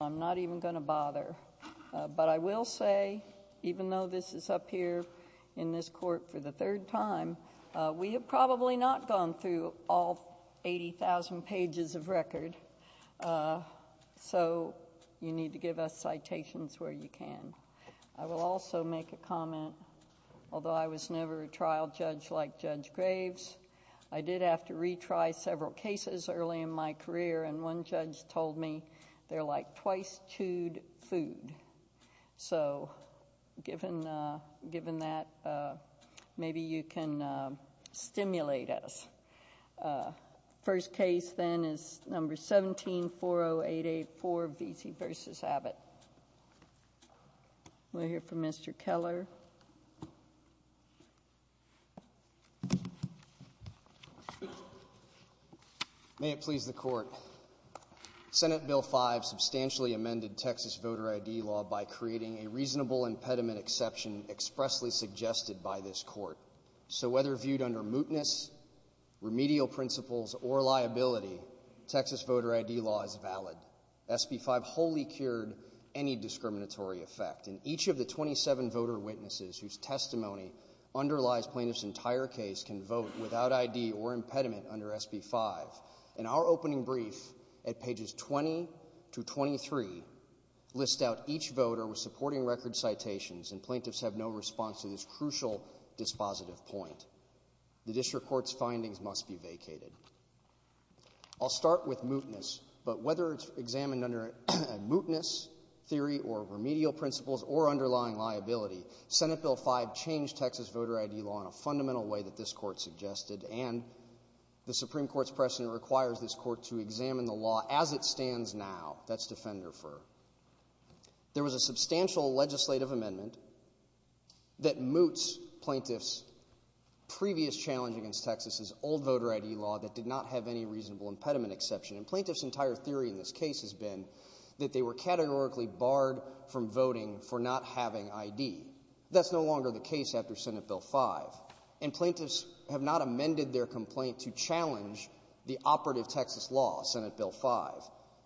I'm not even going to bother, but I will say, even though this is up here in this court for the third time, we have probably not gone through all 80,000 pages of records, so you need to give us citations where you can. I will also make a comment, although I was never a trial judge like Judge Graves, I did have to retry several cases early in my career, and one judge told me, they're like twice chewed food. So given that, maybe you can stimulate us. First case then is number 1740884, Veasey v. Abbott. We'll hear from Mr. Keller. May it please the court. Senate Bill 5 substantially amended Texas voter ID law by creating a reasonable impediment exception expressly suggested by this court. So whether viewed under mootness, remedial principles, or liability, Texas voter ID law is valid. SB 5 wholly cured any discriminatory effect, and each of the 27 voter witnesses whose testimony underlies plaintiff's entire case can vote without ID or impediment under SB 5. In our opening brief, at pages 20-23, list out each voter with supporting record citations, and plaintiffs have no response to this crucial dispositive point. The district court's findings must be vacated. I'll start with mootness, but whether it's examined under a mootness theory or remedial principles or underlying liability, Senate Bill 5 changed Texas voter ID law in a fundamental way that this court suggested, and the Supreme Court's precedent requires this court to examine the law as it stands now. That's defender-for. There was a substantial legislative amendment that moots plaintiffs' previous challenge against Texas's old voter ID law that did not have any reasonable impediment exception, and plaintiffs' entire theory in this case has been that they were categorically barred from voting for not having ID. That's no longer the case after Senate Bill 5, and plaintiffs have not amended their complaint to challenge the operative Texas law, Senate Bill 5,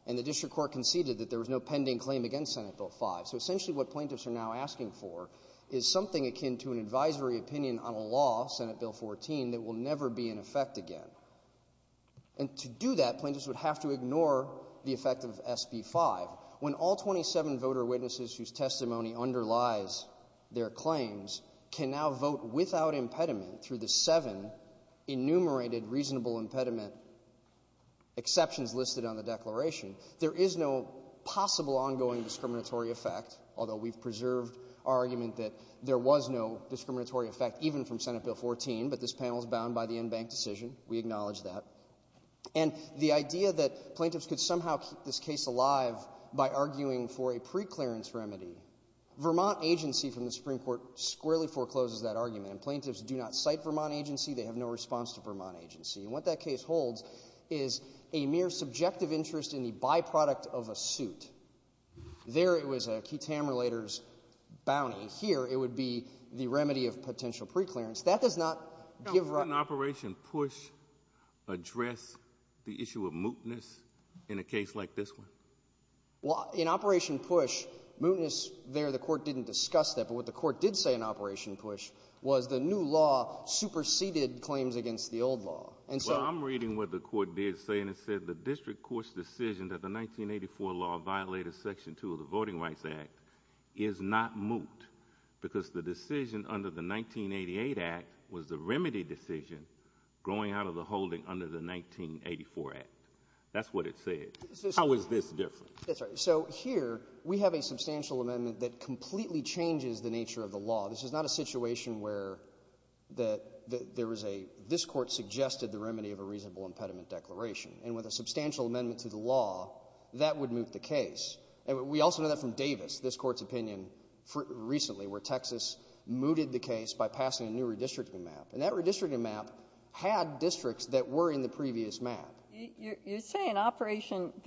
and the district court conceded that there was no pending claim against Senate Bill 5. So essentially what plaintiffs are now asking for is something akin to an advisory opinion on a law, Senate Bill 14, that will never be in effect again. And to do that, plaintiffs would have to ignore the effect of SB 5. When all 27 voter witnesses whose testimony underlies their claims can now vote without impediment through the seven enumerated reasonable impediment exceptions listed on the declaration, there is no possible ongoing discriminatory effect, although we've preserved our argument that there was no discriminatory effect even from Senate Bill 14, but this panel is bound by the in-bank decision. We acknowledge that. And the idea that plaintiffs could somehow keep this case alive by arguing for a pre-clearance remedy, Vermont agency from the Supreme Court squarely forecloses that argument, and plaintiffs do not cite Vermont agency, they have no response to Vermont agency, and what that case holds is a mere subjective interest in the byproduct of a suit. There, it was a QTAM relator's bounty. Here, it would be the remedy of potential pre-clearance. That does not give right— Didn't Operation PUSH address the issue of mootness in a case like this one? Well, in Operation PUSH, mootness there, the court didn't discuss that, but what the court did say in Operation PUSH was the new law superseded claims against the old law, and so— Well, I'm reading what the court did say, and it said the district court's decision that the 1984 law violated section two of the Voting Rights Act is not moot, because the decision under the 1988 act was the remedy decision going out of the holding under the 1984 act. That's what it said. How is this different? That's right. So, here, we have a substantial amendment that completely changes the nature of the law. This is not a situation where there is a—this court suggested the remedy of a reasonable impediment declaration. And with a substantial amendment to the law, that would moot the case. We also know that from Davis, this court's opinion, recently, where Texas mooted the case by passing a new redistricting map, and that redistricting map had districts that were in the previous map. You're saying Operation—the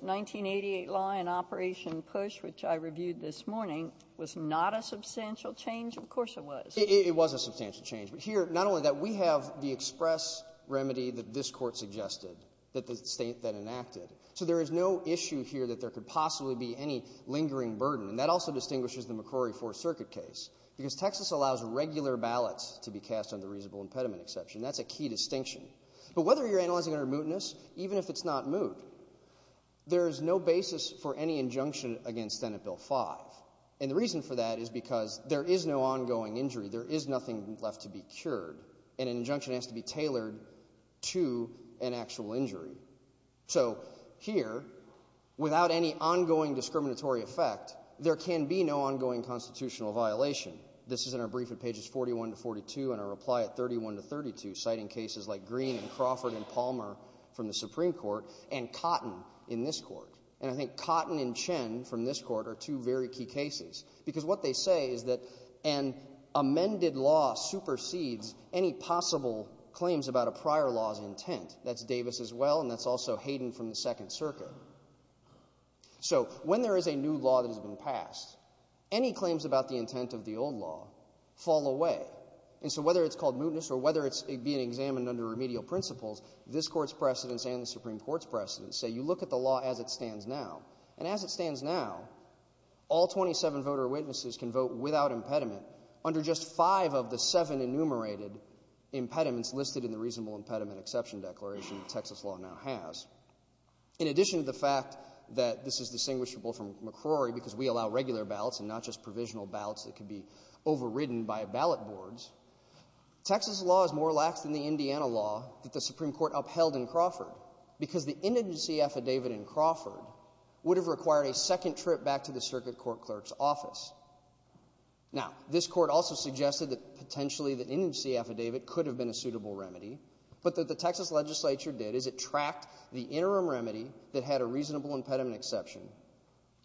1988 law in Operation PUSH, which I reviewed this morning, was not a substantial change? Of course it was. It was a substantial change, but here, not only that, we have the express remedy that this court suggested, that the state—that enacted. So, there is no issue here that there could possibly be any lingering burden, and that also distinguishes the McCrory Fourth Circuit case, because Texas allows regular ballots to be cast under a reasonable impediment exception. That's a key distinction. But whether you're analyzing under mootness, even if it's not moot, there is no basis for any injunction against Senate Bill 5, and the reason for that is because there is no ongoing injury. There is nothing left to be cured, and an injunction has to be tailored to an actual injury. So, here, without any ongoing discriminatory effect, there can be no ongoing constitutional violation. This is in our brief at pages 41 to 42, and our reply at 31 to 32, citing cases like Green, Crawford, and Palmer from the Supreme Court, and Cotton in this court. And I think Cotton and Chen from this court are two very key cases, because what they say is that an amended law supersedes any possible claims about a prior law's intent. That's Davis, as well, and that's also Hayden from the Second Circuit. So, when there is a new law that has been passed, any claims about the intent of the old law fall away, and so whether it's called mootness, or whether it's being examined under remedial principles, this court's precedents and the Supreme Court's precedents say, you look at the law as it stands now, and as it stands now, all 27 voter witnesses can vote without impediment, under just 5 of the 7 enumerated impediments listed in the Reasonable Impediment Exception Declaration that Texas law now has. In addition to the fact that this is distinguishable from McCrory, because we allow regular ballots and not just provisional ballots that can be overridden by ballot boards, Texas law is more lax than the Indiana law that the Supreme Court upheld in Crawford, because the indigency affidavit in Crawford would have required a second trip back to the Circuit Court Clerk's office. Now, this court also suggested that potentially the indigency affidavit could have been a suitable remedy, but that the Texas legislature did is it tracked the interim remedy that had a reasonable impediment exception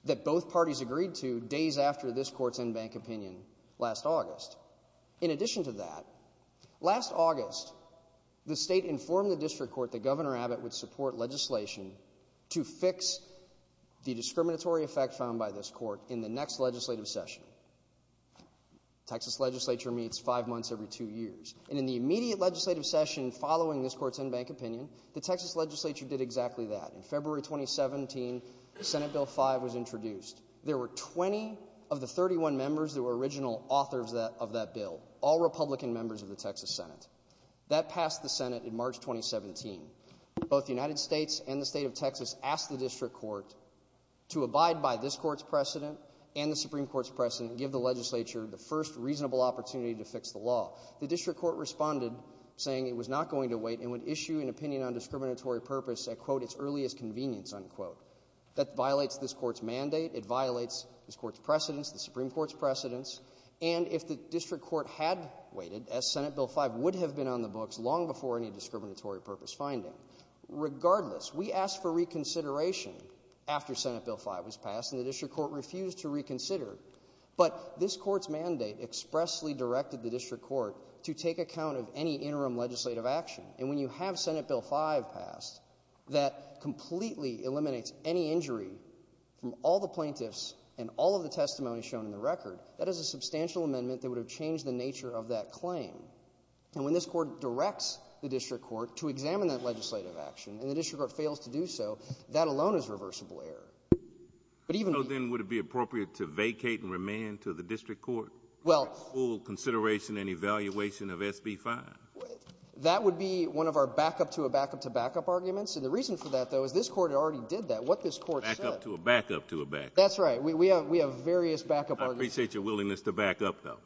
that both parties agreed to days after this court's in-bank opinion last August. In addition to that, last August, the state informed the District Court that Governor in the next legislative session, Texas legislature meets 5 months every 2 years, and in the immediate legislative session following this court's in-bank opinion, the Texas legislature did exactly that. In February 2017, Senate Bill 5 was introduced. There were 20 of the 31 members that were original authors of that bill, all Republican members of the Texas Senate. That passed the Senate in March 2017. Both the United States and the state of Texas asked the District Court to abide by this court's precedent and the Supreme Court's precedent and give the legislature the first reasonable opportunity to fix the law. The District Court responded saying it was not going to wait and would issue an opinion on discriminatory purpose that, quote, it's early as convenience, unquote. That violates this court's mandate. It violates this court's precedents, the Supreme Court's precedents. And if the District Court had waited, as Senate Bill 5 would have been on the books long before any discriminatory purpose finding, regardless, we asked for reconsideration after Senate Bill 5 was passed and the District Court refused to reconsider. But this court's mandate expressly directed the District Court to take account of any interim legislative action. And when you have Senate Bill 5 passed, that completely eliminates any injury from all the plaintiffs and all of the testimony shown in the record. That is a substantial amendment that would have changed the nature of that claim. And when this court directs the District Court to examine that legislative action and the So then would it be appropriate to vacate and remain to the District Court for full consideration and evaluation of SB 5? That would be one of our back-up to a back-up to back-up arguments. And the reason for that, though, is this court had already did that. What this court said... Back-up to a back-up to a back-up. That's right. We have various back-up arguments. I appreciate your willingness to back-up, though.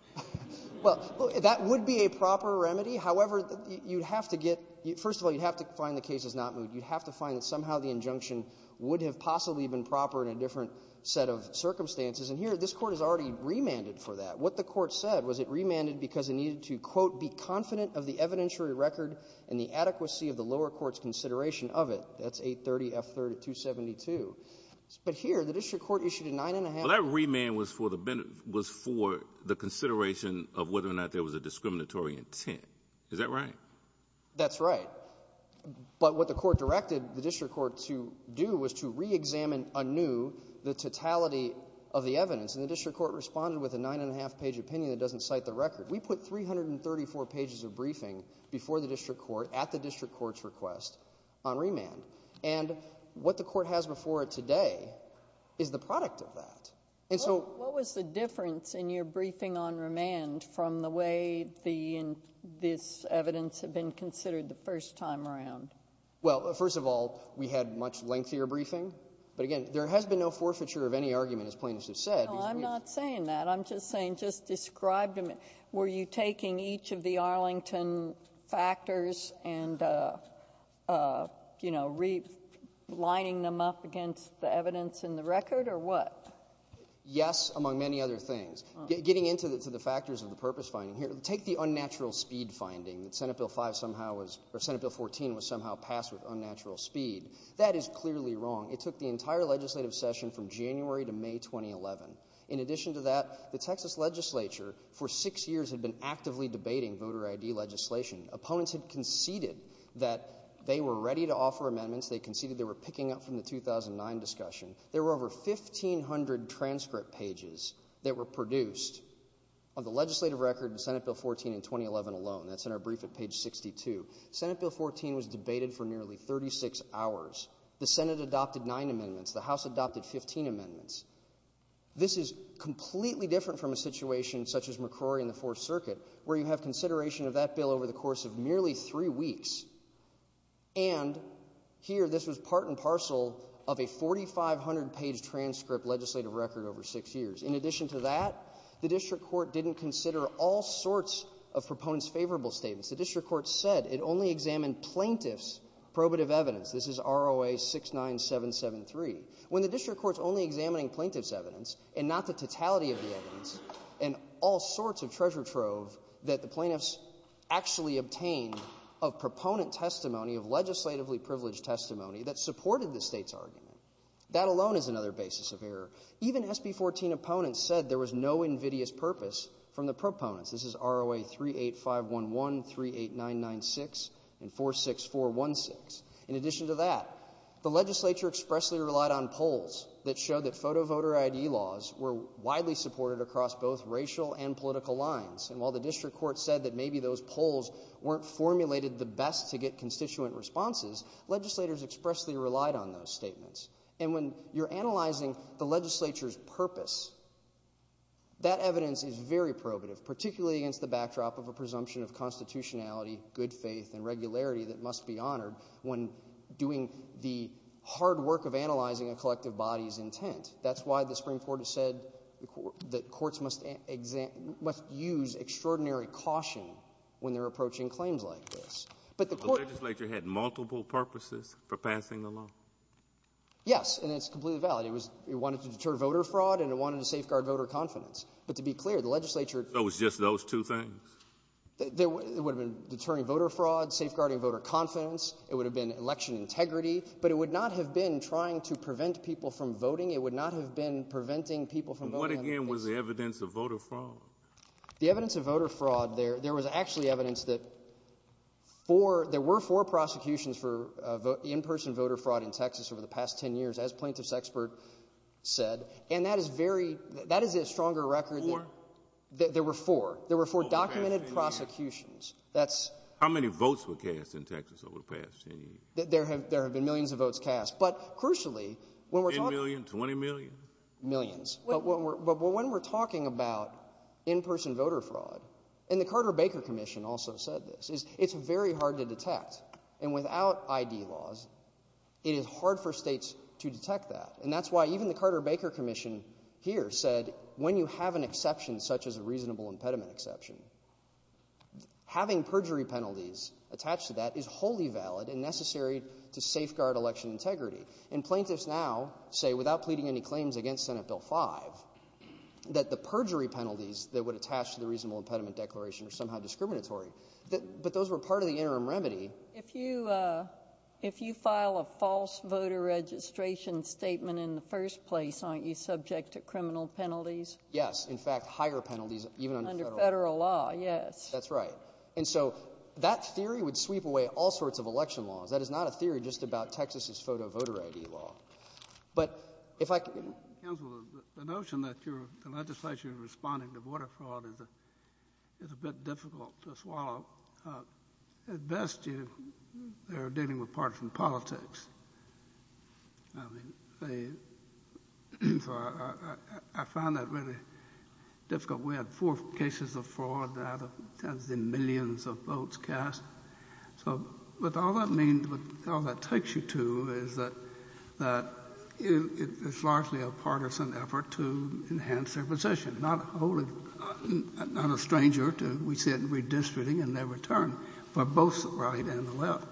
Well, that would be a proper remedy. However, you'd have to get, first of all, you'd have to find the case is not moved. You'd have to find that somehow the injunction would have possibly been proper in a different set of circumstances. And here, this court has already remanded for that. What the court said was it remanded because it needed to, quote, be confident of the evidentiary record and the adequacy of the lower court's consideration of it. That's 830 F. 3272. But here, the District Court issued a 9-1-1. Well, that remand was for the consideration of whether or not there was a discriminatory intent. Is that right? That's right. But what the court directed the District Court to do was to re-examine anew the totality of the evidence. And the District Court responded with a 9-1-1 page opinion that doesn't cite the record. We put 334 pages of briefing before the District Court at the District Court's request on remand. And what the court has before it today is the product of that. And so— What was the difference in your briefing on remand from the way the—this evidence had been considered the first time around? Well, first of all, we had much lengthier briefing. But again, there has been no forfeiture of any argument, as plaintiffs have said. Well, I'm not saying that. I'm just saying, just describe to me, were you taking each of the Arlington factors and, you know, re-lining them up against the evidence in the record, or what? Yes, among many other things. Getting into the factors of the purpose finding here, take the unnatural speed finding, Senate Bill 5 somehow was—or Senate Bill 14 was somehow passed with unnatural speed. That is clearly wrong. It took the entire legislative session from January to May 2011. In addition to that, the Texas Legislature, for six years, had been actively debating voter ID legislation. Opponents had conceded that they were ready to offer amendments. They conceded they were picking up from the 2009 discussion. There were over 1,500 transcript pages that were produced of the legislative record in Senate Bill 14 in 2011 alone. That's in our brief at page 62. Senate Bill 14 was debated for nearly 36 hours. The Senate adopted nine amendments. The House adopted 15 amendments. This is completely different from a situation such as McCrory and the Fourth Circuit, where you have consideration of that bill over the course of nearly three weeks. And here, this was part and parcel of a 4,500-page transcript legislative record over six years. In addition to that, the district court didn't consider all sorts of proponents' favorable statements. The district court said it only examined plaintiff's probative evidence. This is ROA 69773. When the district court's only examining plaintiff's evidence, and not the totality of the evidence, and all sorts of treasure trove that the plaintiffs actually obtained of proponent testimony, of legislatively privileged testimony, that supported the state's argument, that alone is another basis of error. Even SB 14 opponents said there was no invidious purpose from the proponents. This is ROA 38511, 38996, and 46416. In addition to that, the legislature expressly relied on polls that showed that photo voter ID laws were widely supported across both racial and political lines. And while the district court said that maybe those polls weren't formulated the best to get constituent responses, legislators expressly relied on those statements. And when you're analyzing the legislature's purpose, that evidence is very probative, particularly against the backdrop of a presumption of constitutionality, good faith, and regularity that must be honored when doing the hard work of analyzing a collective body's intent. That's why the Supreme Court said that courts must use extraordinary caution when they're approaching claims like this. The legislature had multiple purposes for passing the law? Yes. And it's completely valid. It wanted to deter voter fraud, and it wanted to safeguard voter confidence. But to be clear, the legislature... It was just those two things? It would have been deterring voter fraud, safeguarding voter confidence. It would have been election integrity. But it would not have been trying to prevent people from voting. It would not have been preventing people from voting. And what, again, was the evidence of voter fraud? The evidence of voter fraud, there was actually evidence that there were four prosecutions for in-person voter fraud in Texas over the past 10 years, as Plaintiff's expert said. And that is a stronger record. Four? There were four. There were four documented prosecutions. How many votes were cast in Texas over the past 10 years? There have been millions of votes cast. But crucially... 10 million? 20 million? Millions. But when we're talking about in-person voter fraud, and the Carter-Baker Commission also said this, is it's very hard to detect. And without ID laws, it is hard for states to detect that. And that's why even the Carter-Baker Commission here said, when you have an exception such as a reasonable impediment exception, having perjury penalties attached to that is wholly valid and necessary to safeguard election integrity. And Plaintiffs now say, without pleading any claims against Senate Bill 5, that the perjury penalties that would attach to the reasonable impediment declaration are somehow discriminatory. But those were part of the interim remedy. If you file a false voter registration statement in the first place, aren't you subject to criminal penalties? Yes. In fact, higher penalties even under federal law. Under federal law, yes. That's right. And so that theory would sweep away all sorts of election law. That is not a theory just about Texas's photo voter ID law. But if I could... Counselor, the notion that your legislation is responding to voter fraud is a bit difficult to swallow. At best, they're dealing with partisan politics. I mean, I find that really difficult. We had four cases of fraud out of tens of millions of votes cast. So what all that means, what all that takes you to, is that it's largely a partisan effort to enhance their position, not a stranger to, we said, redistricting in their return for both the right and the left.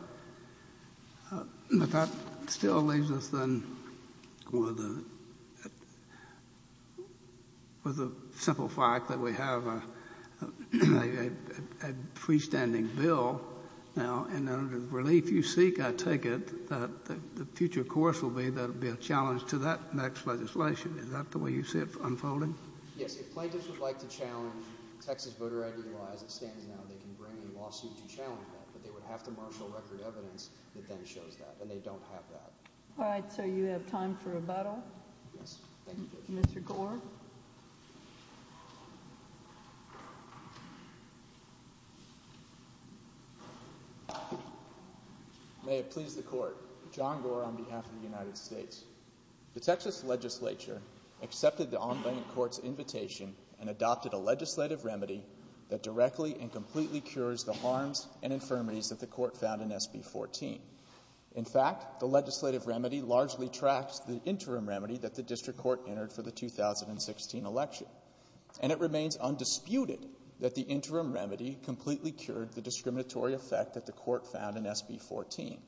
That still leaves us then with a simple fact that we have a freestanding bill now. And the relief you seek, I take it, the future course will be that there will be a challenge to that next legislation. Is that the way you see it unfolding? Yes. If places would like to challenge Texas voter ID laws, they can bring in lawsuits and challenge that. But they would have to mark the record evidence that that is showing. And they don't have that. All right. So you have time for rebuttal? Yes. Thank you. Mr. Gore? May it please the Court. John Gore on behalf of the United States. The Texas legislature accepted the online court's invitation and adopted a legislative remedy that directly and completely cures the harms and infirmities that the court found in SB14. In fact, the legislative remedy largely tracks the interim remedy that the district court entered for the 2016 election. And it remains undisputed that the interim remedy completely cured the discriminatory effect that the court found in SB14.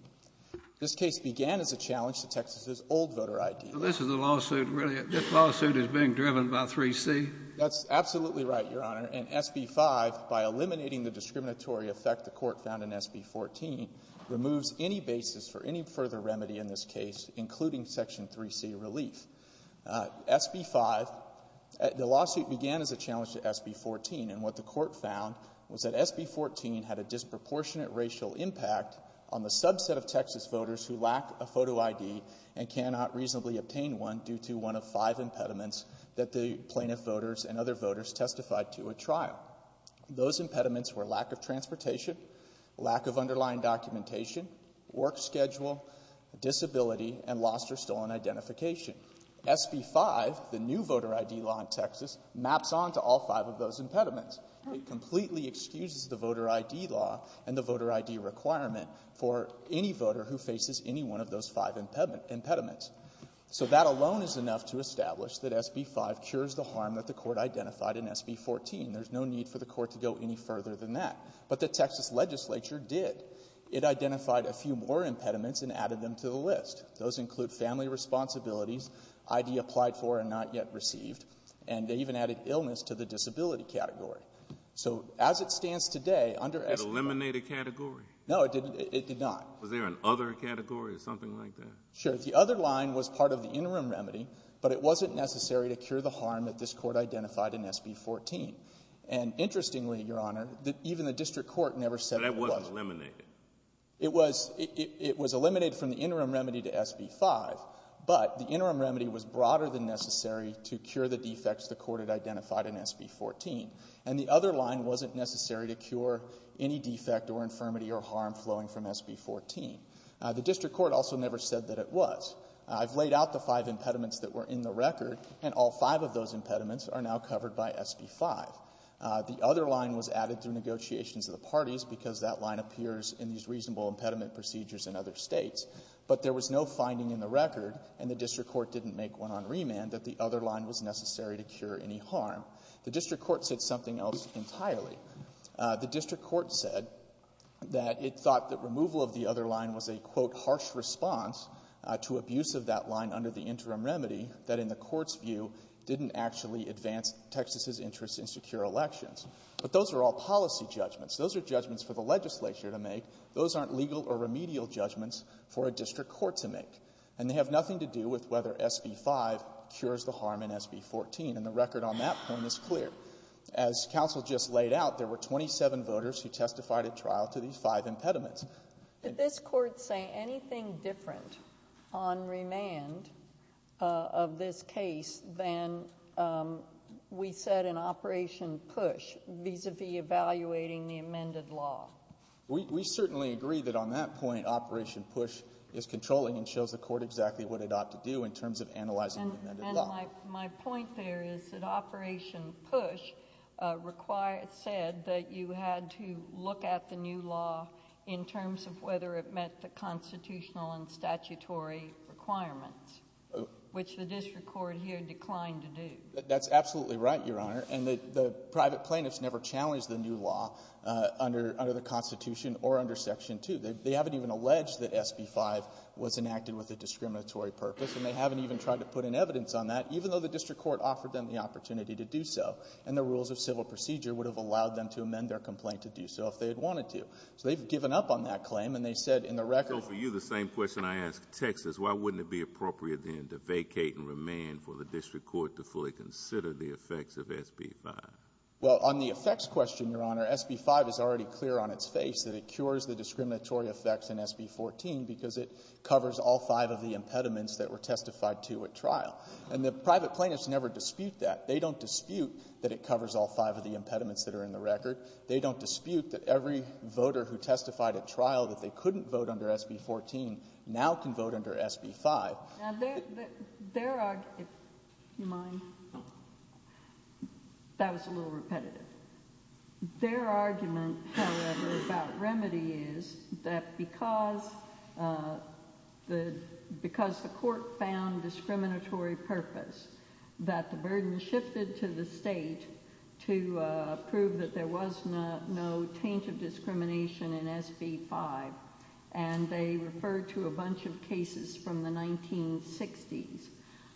This case began as a challenge to Texas's old voter ID law. So this is a lawsuit really, this lawsuit is being driven by 3C? That's absolutely right, Your Honor. And SB5, by eliminating the discriminatory effect the court found in SB14, removes any basis for any further remedy in this case, including Section 3C relief. SB5, the lawsuit began as a challenge to SB14. And what the court found was that SB14 had a disproportionate racial impact on the subset of Texas voters who lack a photo ID and cannot reasonably obtain one due to one of five impediments that the plaintiff voters and other voters testified to at trial. Those impediments were lack of transportation, lack of underlying documentation, work schedule, disability, and lost or stolen identification. SB5, the new voter ID law in Texas, maps on to all five of those impediments. It completely excuses the voter ID law and the voter ID requirement for any voter who faces any one of those five impediments. So that alone is enough to establish that SB5 cures the harm that the court identified in SB14. There's no need for the court to go any further than that. But the Texas legislature did. It identified a few more impediments and added them to the list. Those include family responsibility, ID applied for and not yet received, and they even added illness to the disability category. So as it stands today, under SB5- Did it eliminate a category? No, it did not. Was there an other category or something like that? Sure. The other line was part of the interim remedy, but it wasn't necessary to cure the harm that this court identified in SB14. And interestingly, Your Honor, even the district court never said- But that wasn't eliminated. It was eliminated from the interim remedy to SB5, but the interim remedy was broader than necessary to cure the defects the court had identified in SB14. And the other line wasn't necessary to cure any defect or infirmity or harm flowing from SB14. The district court also never said that it was. I've laid out the five impediments that were in the record, and all five of those impediments are now covered by SB5. The other line was added through negotiations of the parties because that line appears in these reasonable impediment procedures in other states. But there was no finding in the record, and the district court didn't make one on remand, that the other line was necessary to cure any harm. The district court said something else entirely. The district court said that it thought that removal of the other line was a, quote, harsh response to abuse of that line under the interim remedy that, in the court's view, didn't actually advance Texas's interest in secure elections. But those are all policy judgments. Those are judgments for the legislature to make. Those aren't legal or remedial judgments for a district court to make. And they have nothing to do with whether SB5 cures the harm in SB14, and the record on that claim is clear. As counsel just laid out, there were 27 voters who testified at trial to these five impediments. Did this court say anything different on remand of this case than we said in Operation PUSH vis-a-vis evaluating the amended law? We certainly agree that on that point, Operation PUSH is controlling and shows the court exactly what it ought to do in terms of analyzing the amended law. And my point there is that Operation PUSH said that you had to look at the new law in terms of whether it met the constitutional and statutory requirements, which the district court here declined to do. That's absolutely right, Your Honor. And the private plaintiffs never challenged the new law under the Constitution or under Section 2. They haven't even alleged that SB5 was enacted with a discriminatory purpose, and they haven't even tried to put in evidence on that, even though the district court offered them the opportunity to do so. And the rules of civil procedure would have allowed them to amend their complaint to do so if they had wanted to. So they've given up on that claim, and they said in the record... So for you, the same question I asked Texas, why wouldn't it be appropriate then to vacate and remand for the district court to fully consider the effects of SB5? Well, on the effects question, Your Honor, SB5 is already clear on its face that it cures the discriminatory effects in SB14 because it covers all five of the impediments that were testified to at trial. And the private plaintiffs never dispute that. They don't dispute that it covers all five of the impediments that are in the record. They don't dispute that every voter who testified at trial that they couldn't vote under SB14 now can vote under SB5. Now, their argument... Excuse me. That was a little repetitive. Their argument, however, about remedy is that because the court found discriminatory purpose, that the burden shifted to the state to prove that there was no change of discrimination in SB5. And they referred to a bunch of cases from the 1960s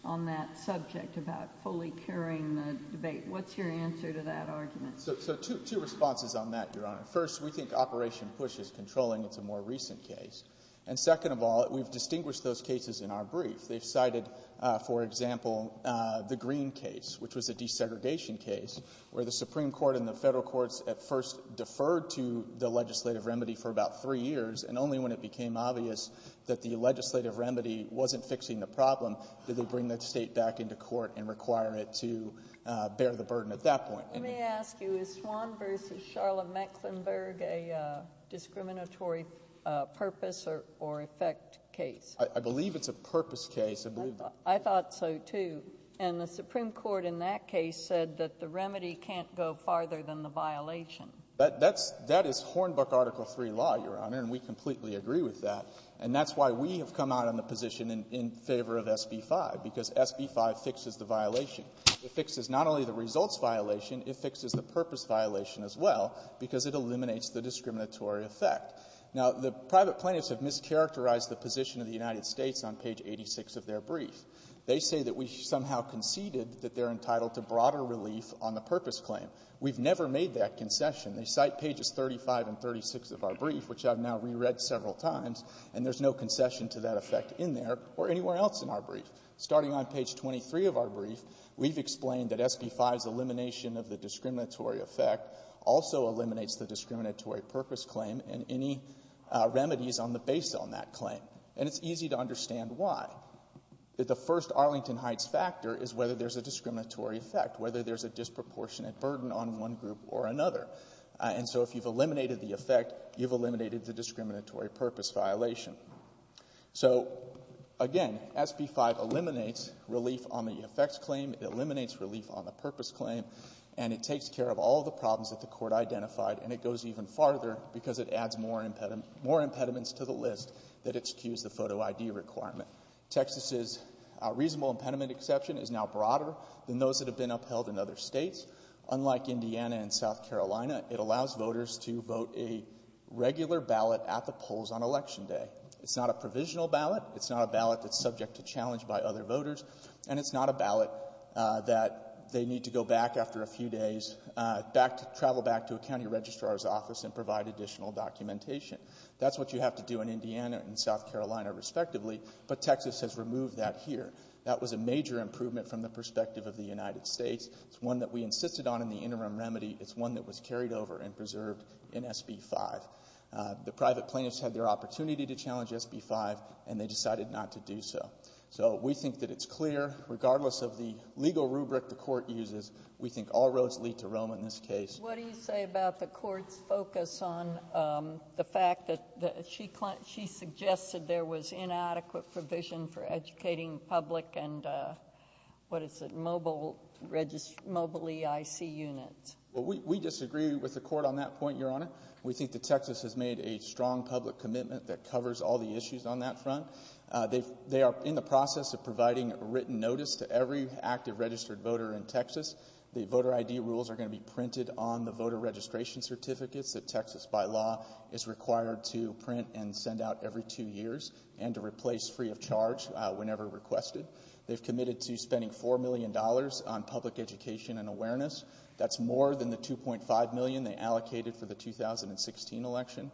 on that subject about fully curing the debate. What's your answer to that argument? So two responses on that, Your Honor. First, we think Operation Push is controlling the more recent case. And second of all, we've distinguished those cases in our brief. They cited, for example, the Green case, which was the desegregation case, where the Supreme Court and the federal courts at first deferred to the legislative remedy for about three years and only when it became obvious that the legislative remedy wasn't fixing the problem did they bring the state back into court and require it to bear the burden at that point. Let me ask you. Is Swann v. Charlotte Mecklenburg a discriminatory purpose or effect case? I believe it's a purpose case. I thought so, too. And the Supreme Court in that case said that the remedy can't go farther than the violation. That is Hornbook Article III law, Your Honor, and we completely agree with that. And that's why we have come out on the position in favor of SB 5, because SB 5 fixes the violation. It fixes not only the results violation, it fixes the purpose violation as well, because it eliminates the discriminatory effect. Now, the private plaintiffs have mischaracterized the position of the United States on page 86 of their brief. They say that we somehow conceded that they're entitled to broader relief on the purpose claim. We've never made that concession. They cite pages 35 and 36 of our brief, which I've now reread several times, and there's no concession to that effect in there or anywhere else in our brief. Starting on page 23 of our brief, we've explained that SB 5's elimination of the discriminatory effect also eliminates the discriminatory purpose claim and any remedies based on that claim. And it's easy to understand why. The first Arlington Heights factor is whether there's a discriminatory effect, whether there's a disproportionate burden on one group or another. And so if you've eliminated the effect, you've eliminated the discriminatory purpose violation. So again, SB 5 eliminates relief on the effects claim, it eliminates relief on the purpose claim, and it takes care of all the problems that the court identified, and it goes even farther because it adds more impediments to the list that excuse the photo ID requirement. Texas's reasonable impediment exception is now broader than those that have been upheld in other states. Unlike Indiana and South Carolina, it allows voters to vote a regular ballot at the polls on election day. It's not a provisional ballot, it's not a ballot that's subject to challenge by other voters, and it's not a ballot that they need to go back after a few days, travel back to a county registrar's office and provide additional documentation. That's what you have to do in Indiana and South Carolina respectively, but Texas has removed that here. That was a major improvement from the perspective of the United States. It's one that we insisted on in the interim remedy. It's one that was carried over and preserved in SB 5. The private plaintiffs had their opportunity to challenge SB 5, and they decided not to do so. So we think that it's clear, regardless of the legal rubric the court uses, we think all roads lead to Rome in this case. What do you say about the court's focus on the fact that she suggested there was inadequate provision for educating public and what is it, mobile EIC units? We disagree with the court on that point, Your Honor. We think that Texas has made a strong public commitment that covers all the issues on that front. They are in the process of providing written notice to every active registered voter in Texas. The voter ID rules are going to be printed on the voter registration certificates that are replaced free of charge whenever requested. They've committed to spending $4 million on public education and awareness. That's more than the $2.5 million they allocated for the 2016 election.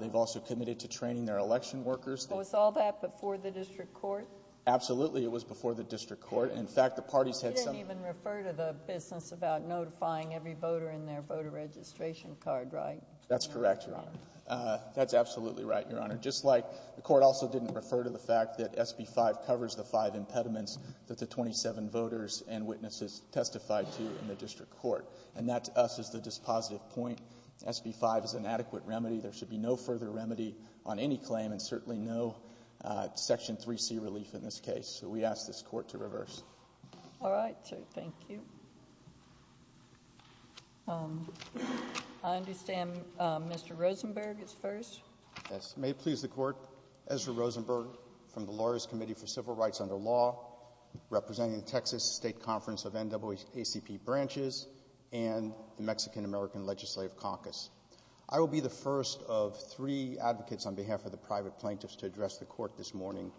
They've also committed to training their election workers. Was all that before the district court? Absolutely. It was before the district court. In fact, the parties had- You didn't even refer to the business about notifying every voter in their voter registration card, right? That's correct, Your Honor. That's absolutely right, Your Honor. Just like the court also didn't refer to the fact that SB 5 covers the five impediments that the 27 voters and witnesses testified to in the district court. And that, to us, is the dispositive point. SB 5 is an adequate remedy. There should be no further remedy on any claim and certainly no Section 3C relief in this case. So we ask this court to reverse. All right. Thank you. I understand Mr. Rosenberg is first. Yes. May it please the court, Ezra Rosenberg from the Lawyers' Committee for Civil Rights Under Law, representing the Texas State Conference of NAACP branches and the Mexican-American Legislative Caucus. I will be the first of three advocates on behalf of the private plaintiffs to address the court this morning.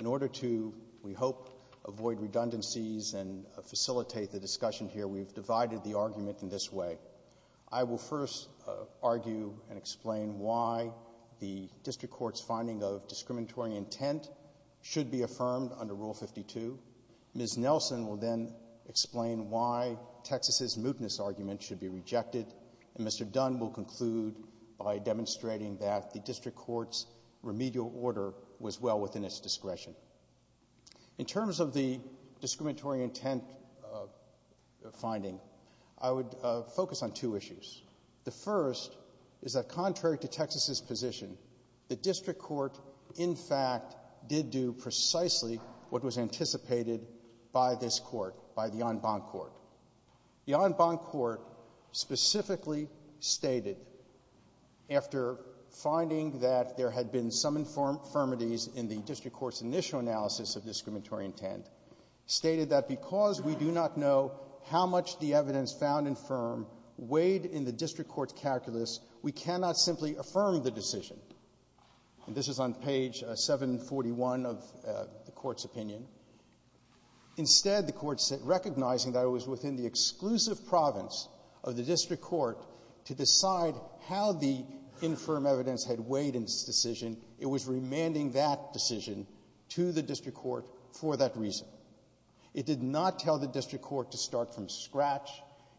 In order to, we hope, avoid redundancies and facilitate the discussion here, we've divided the argument in this way. I will first argue and explain why the district court's finding of discriminatory intent should be affirmed under Rule 52. Ms. Nelson will then explain why Texas's mootness argument should be rejected. And Mr. Dunn will conclude by demonstrating that the district court's remedial order was well within its discretion. In terms of the discriminatory intent finding, I would focus on two issues. The first is that contrary to Texas's position, the district court, in fact, did do precisely what was anticipated by this court, by the en banc court. The en banc court specifically stated, after finding that there had been some infirmities in the district court's initial analysis of discriminatory intent, stated that because we do not know how much the evidence found infirm weighed in the district court's calculus, we cannot simply affirm the decision. This is on page 741 of the court's opinion. Instead, the court said, recognizing that it was within the exclusive province of the district court to decide how the infirm evidence had weighed in this decision, it was remanding that decision to the district court for that reason. It did not tell the district court to start from scratch.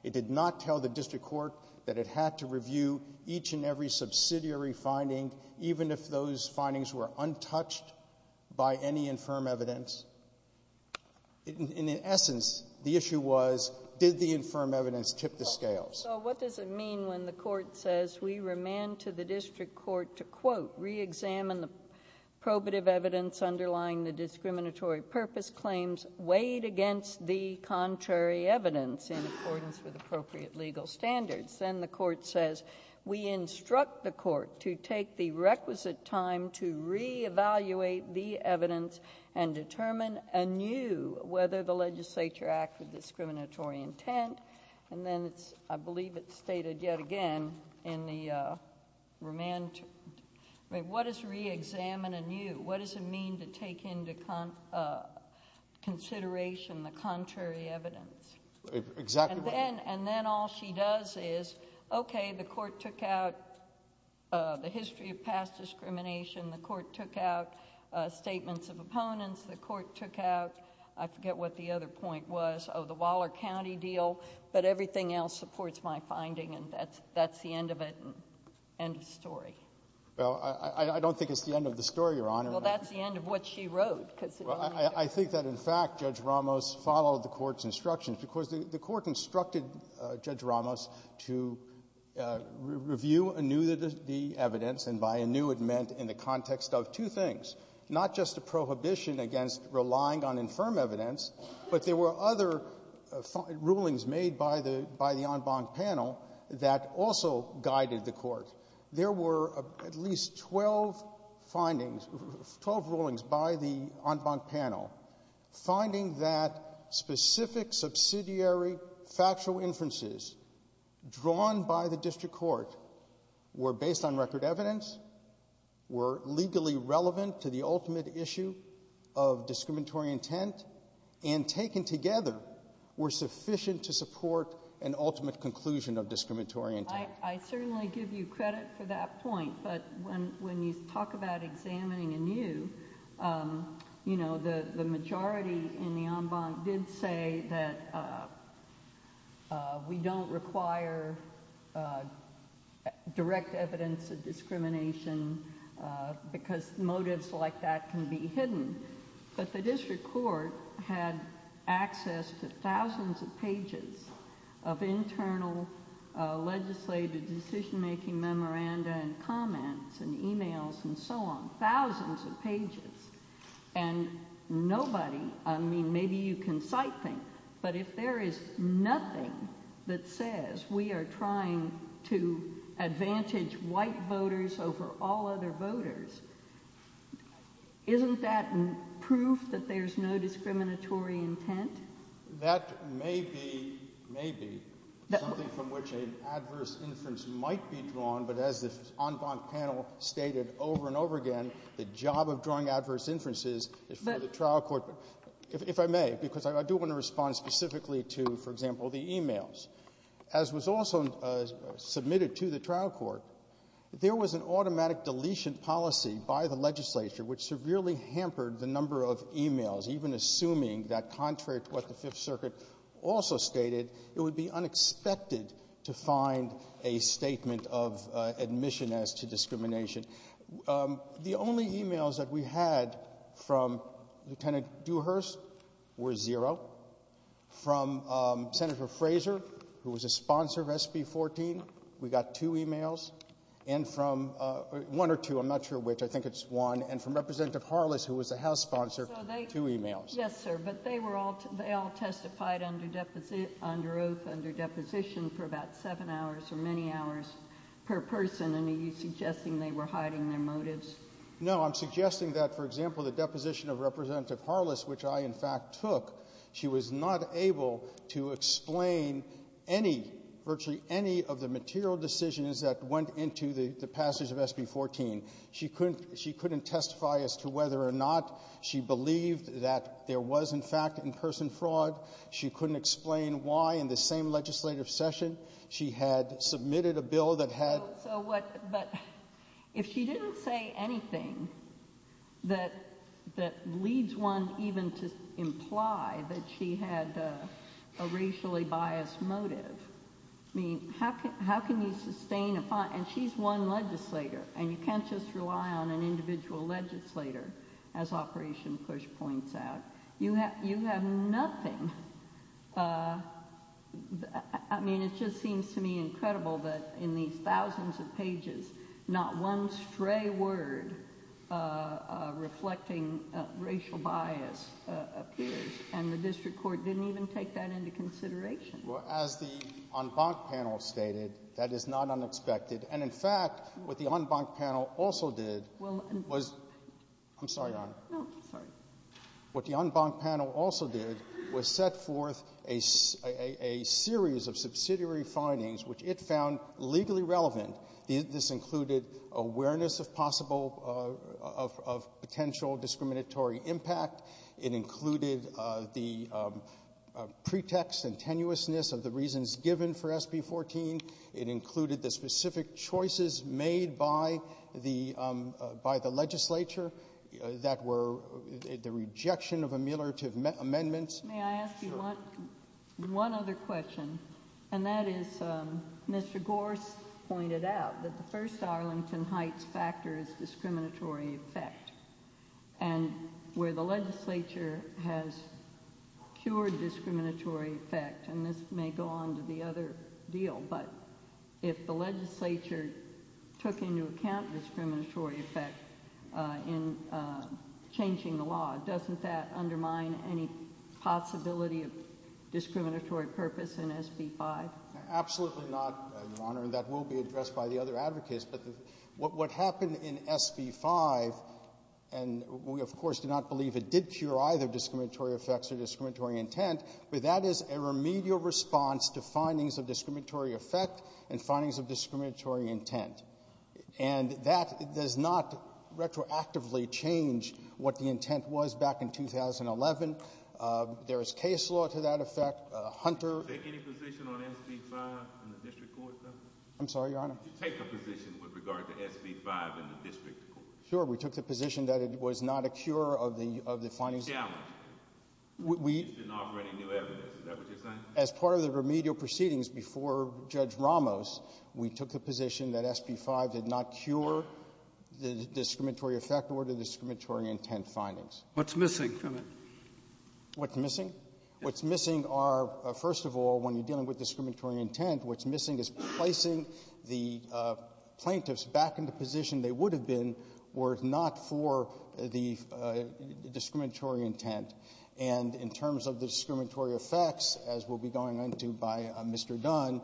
It did not tell the district court that it had to review each and every subsidiary finding, even if those findings were untouched by any infirm evidence. In essence, the issue was, did the infirm evidence tip the scales? So what does it mean when the court says, we remand to the district court to, quote, reexamine the probative evidence underlying the discriminatory purpose claims weighed against the contrary evidence in accordance with appropriate legal standards? Then the court says, we instruct the court to take the requisite time to re-evaluate the evidence and determine anew whether the legislature acted with discriminatory intent, and then, I believe it's stated yet again in the remand, what does re-examine anew, what does it mean to take into consideration the contrary evidence? And then all she does is, okay, the court took out the history of past discrimination, the court took out statements of opponents, the court took out, I forget what the other point was, of the Waller County deal, but everything else supports my finding, and that's the end of it, end of story. Well, I don't think it's the end of the story, Your Honor. Well, that's the end of what she wrote. I think that, in fact, Judge Ramos followed the court's instructions, because the court instructed Judge Ramos to review anew the evidence, and by anew it meant in the context of two things, not just the prohibition against relying on infirm evidence, but there were other rulings made by the en banc panel that also guided the court. There were at least 12 findings, 12 rulings by the en banc panel, finding that specific subsidiary factual inferences drawn by the district court were based on record evidence, were legally relevant to the ultimate issue of discriminatory intent, and taken together were sufficient to support an ultimate conclusion of discriminatory intent. I certainly give you credit for that point, but when you talk about examining anew, you know, the majority in the en banc did say that we don't require direct evidence of discrimination because motives like that can be hidden, but the district court had access to thousands of pages of internal legislative decision-making memoranda and comments and e-mails and so on, thousands of pages, and nobody, I mean, maybe you can cite things, but if there is nothing that says we are trying to advantage white voters over all other voters, isn't that proof that there's no discriminatory intent? That may be, may be, something from which an adverse inference might be drawn, but as this en banc panel stated over and over again, the job of drawing adverse inferences is for example the e-mails. As was also submitted to the trial court, there was an automatic deletion policy by the legislature which severely hampered the number of e-mails, even assuming that contrary to what the Fifth Circuit also stated, it would be unexpected to find a statement of admission as to discrimination. The only e-mails that we had from Lieutenant Dewhurst were zero. From Senator Frazier, who was a sponsor of SB 14, we got two e-mails, and from, one or two, I'm not sure which, I think it's one, and from Representative Harless who was the House sponsor, two e-mails. So they, yes sir, but they were all, they all testified under oath, under deposition for about seven hours or many hours per person, and are you suggesting they were hiding their motives? No, I'm suggesting that, for example, the deposition of Representative Harless, which I in fact took, she was not able to explain any, virtually any of the material decisions that went into the passage of SB 14. She couldn't, she couldn't testify as to whether or not she believed that there was in fact in-person fraud. She couldn't explain why in the same legislative session she had submitted a bill that had... So what, but if she didn't say anything that leads one even to imply that she had a racially biased motive, I mean, how can you sustain a, and she's one legislator, and you can't just rely on an individual legislator, as Operation PUSH points out. You have, you have thousands of pages, not one stray word reflecting racial bias appears, and the district court didn't even take that into consideration. Well, as the en banc panel stated, that is not unexpected, and in fact, what the en banc panel also did was... I'm sorry, Your Honor. No, sorry. What the en banc panel also did was set forth a series of subsidiary findings which it found legally relevant. This included awareness of possible, of potential discriminatory impact. It included the pretext and tenuousness of the reasons given for SB 14. It included the specific choices made by the, by the legislature that were the rejection of ameliorative amendments. May I ask you one other question, and that is Mr. Gorse pointed out that the first Arlington Heights factor is discriminatory effect, and where the legislature has cured discriminatory effect, and this may go on to the other deal, but if the legislature took into account discriminatory effect in changing the law, doesn't that undermine any possibility of discriminatory purpose in SB 5? Absolutely not, Your Honor, and that will be addressed by the other advocates, but what happened in SB 5, and we of course do not believe it did cure either discriminatory effects or discriminatory intent, but that is a remedial response to findings of discriminatory effect and findings of discriminatory intent, and that does not retroactively change what the intent was back in 2011. There is case law to that effect, Hunter... Did you take any position on SB 5 in the district court, sir? I'm sorry, Your Honor? Did you take a position with regard to SB 5 in the district court? Sure, we took the position that it was not a cure of the, of the findings... Challenge. We... You didn't offer any new evidence, is that what you're saying? As part of the remedial proceedings before Judge Ramos, we took the position that SB 5 did not cure the discriminatory effect or the discriminatory intent findings. What's missing from it? What's missing? What's missing are, first of all, when you're dealing with discriminatory intent, what's missing is placing the plaintiffs back in the position they would have been were it not for the discriminatory intent, and in terms of the discriminatory effects, as we'll be going into by Mr. Dunn,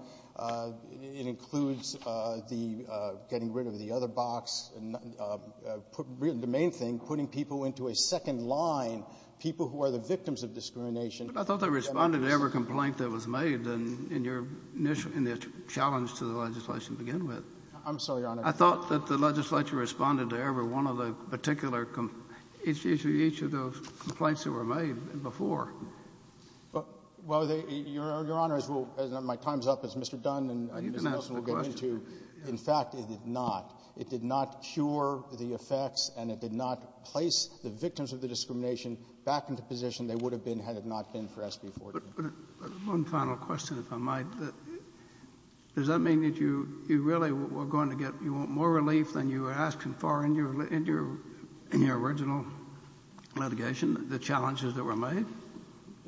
it includes the getting rid of the other box, and the main thing, putting people into a second line, people who are the victims of discrimination... I thought they responded to every complaint that was made in your initial, in the challenge to the legislation to begin with. I'm sorry, Your Honor? I thought that the legislature responded to every one of the particular, each of those complaints that were made before. Well, Your Honor, as my time's up, it's Mr. Dunn, and Mr. Nelson will get into... You can ask the question. In fact, it did not. It did not cure the effects, and it did not place the victims of the discrimination back in the position they would have been had it not been for SB 14. One final question, if I might. Does that mean that you really were going to get more relief than you were asking for in your original litigation, the challenges that were made?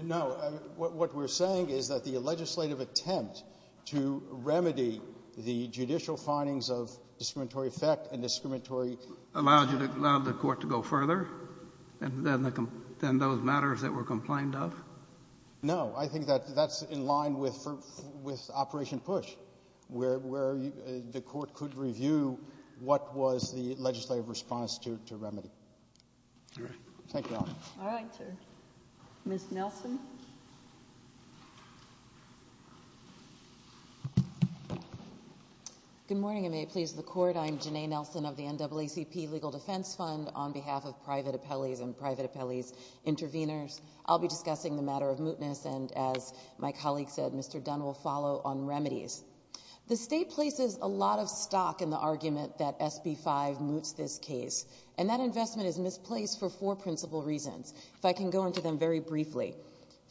No. What we're saying is that the legislative attempt to remedy the judicial findings of discriminatory effect and discriminatory... Allowed the court to go further than those matters that were complained of? No. I think that that's in line with Operation PUSH, where the court could review what was Thank you, Your Honor. All right, sir. Ms. Nelson? Good morning, and may it please the Court, I am Janae Nelson of the NAACP Legal Defense Fund. On behalf of private appellees and private appellees' intervenors, I'll be discussing the matter of mootness, and as my colleague said, Mr. Dunn will follow on remedies. The State places a lot of stock in the argument that SB 5 moots this case, and that investment is significant, so I can go into them very briefly.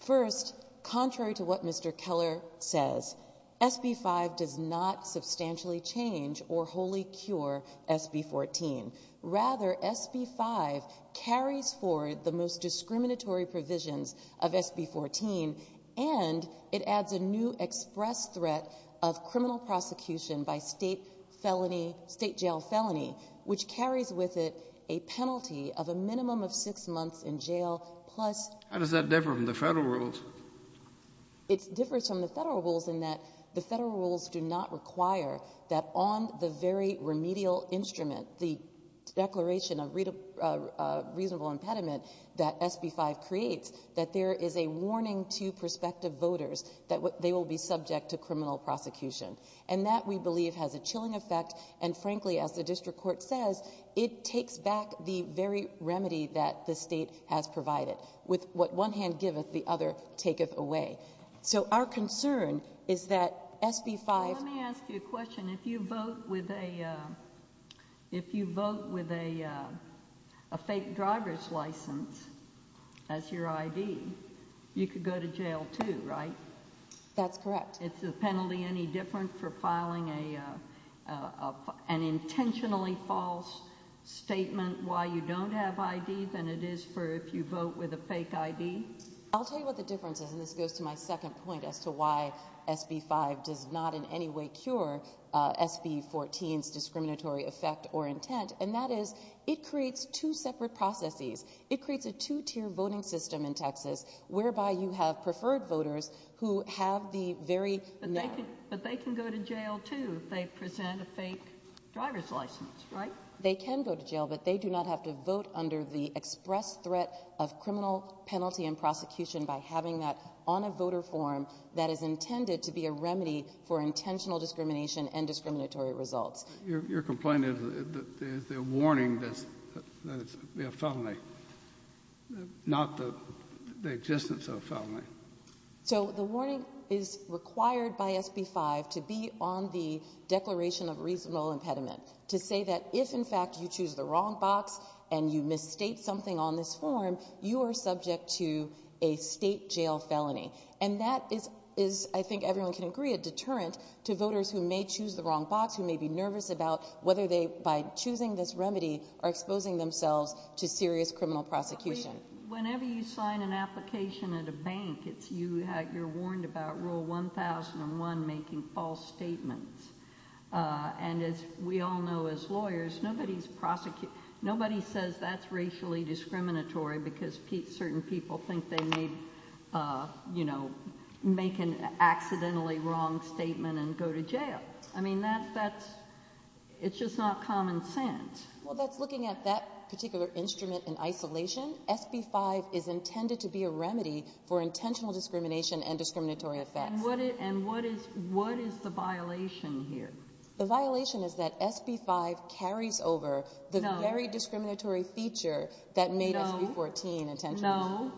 First, contrary to what Mr. Keller says, SB 5 does not substantially change or wholly cure SB 14. Rather, SB 5 carries forward the most discriminatory provisions of SB 14, and it adds a new express threat of criminal prosecution by state felony, state jail felony, which carries with it a penalty of a minimum of six months in jail plus... How does that differ from the federal rules? It differs from the federal rules in that the federal rules do not require that on the very remedial instrument, the Declaration of Reasonable Impediment that SB 5 creates, that there is a warning to prospective voters that they will be subject to criminal prosecution. And that, we believe, has a chilling effect, and frankly, as the district court says, it takes back the very remedy that the state has provided, with what one hand gives, the other takes away. So our concern is that SB 5... Let me ask you a question. If you vote with a fake driver's license as your ID, you could go to jail too, right? That's correct. Is the penalty any different for filing an intentionally false statement why you don't have IDs than it is for if you vote with a fake ID? I'll tell you what the difference is, and this goes to my second point as to why SB 5 does not in any way cure SB 14's discriminatory effect or intent, and that is it creates two separate processes. It creates a two-tier voting system in which you can vote with a fake driver's license, or you can vote with a fake ID. But they can go to jail too if they present a fake driver's license, right? They can go to jail, but they do not have to vote under the express threat of criminal penalty and prosecution by having that on a voter form that is intended to be a remedy for intentional discrimination and discriminatory results. Your complaint is that there's a warning that there's a felony, not the existence of a felony. So the warning is required by SB 5 to be on the declaration of reasonable impediment, to say that if in fact you choose the wrong box and you misstate something on this form, you are subject to a state jail felony. And that is, I think everyone can agree, a deterrent to voters who may choose the wrong box, who may be nervous about whether they, by choosing this remedy, are exposing themselves to serious criminal prosecution. Whenever you sign an application at a bank, you're warned about Rule 1001 making false statements. And as we all know as lawyers, nobody says that's racially discriminatory because certain people think they need, you know, make an accidentally wrong statement and go to jail. I mean, that's, it's just not common sense. Well, but looking at that particular instrument in isolation, SB 5 is intended to be a remedy for intentional discrimination and discriminatory effects. And what is the violation here? The violation is that SB 5 carries over the very discriminatory feature that made up 314 intentionally. So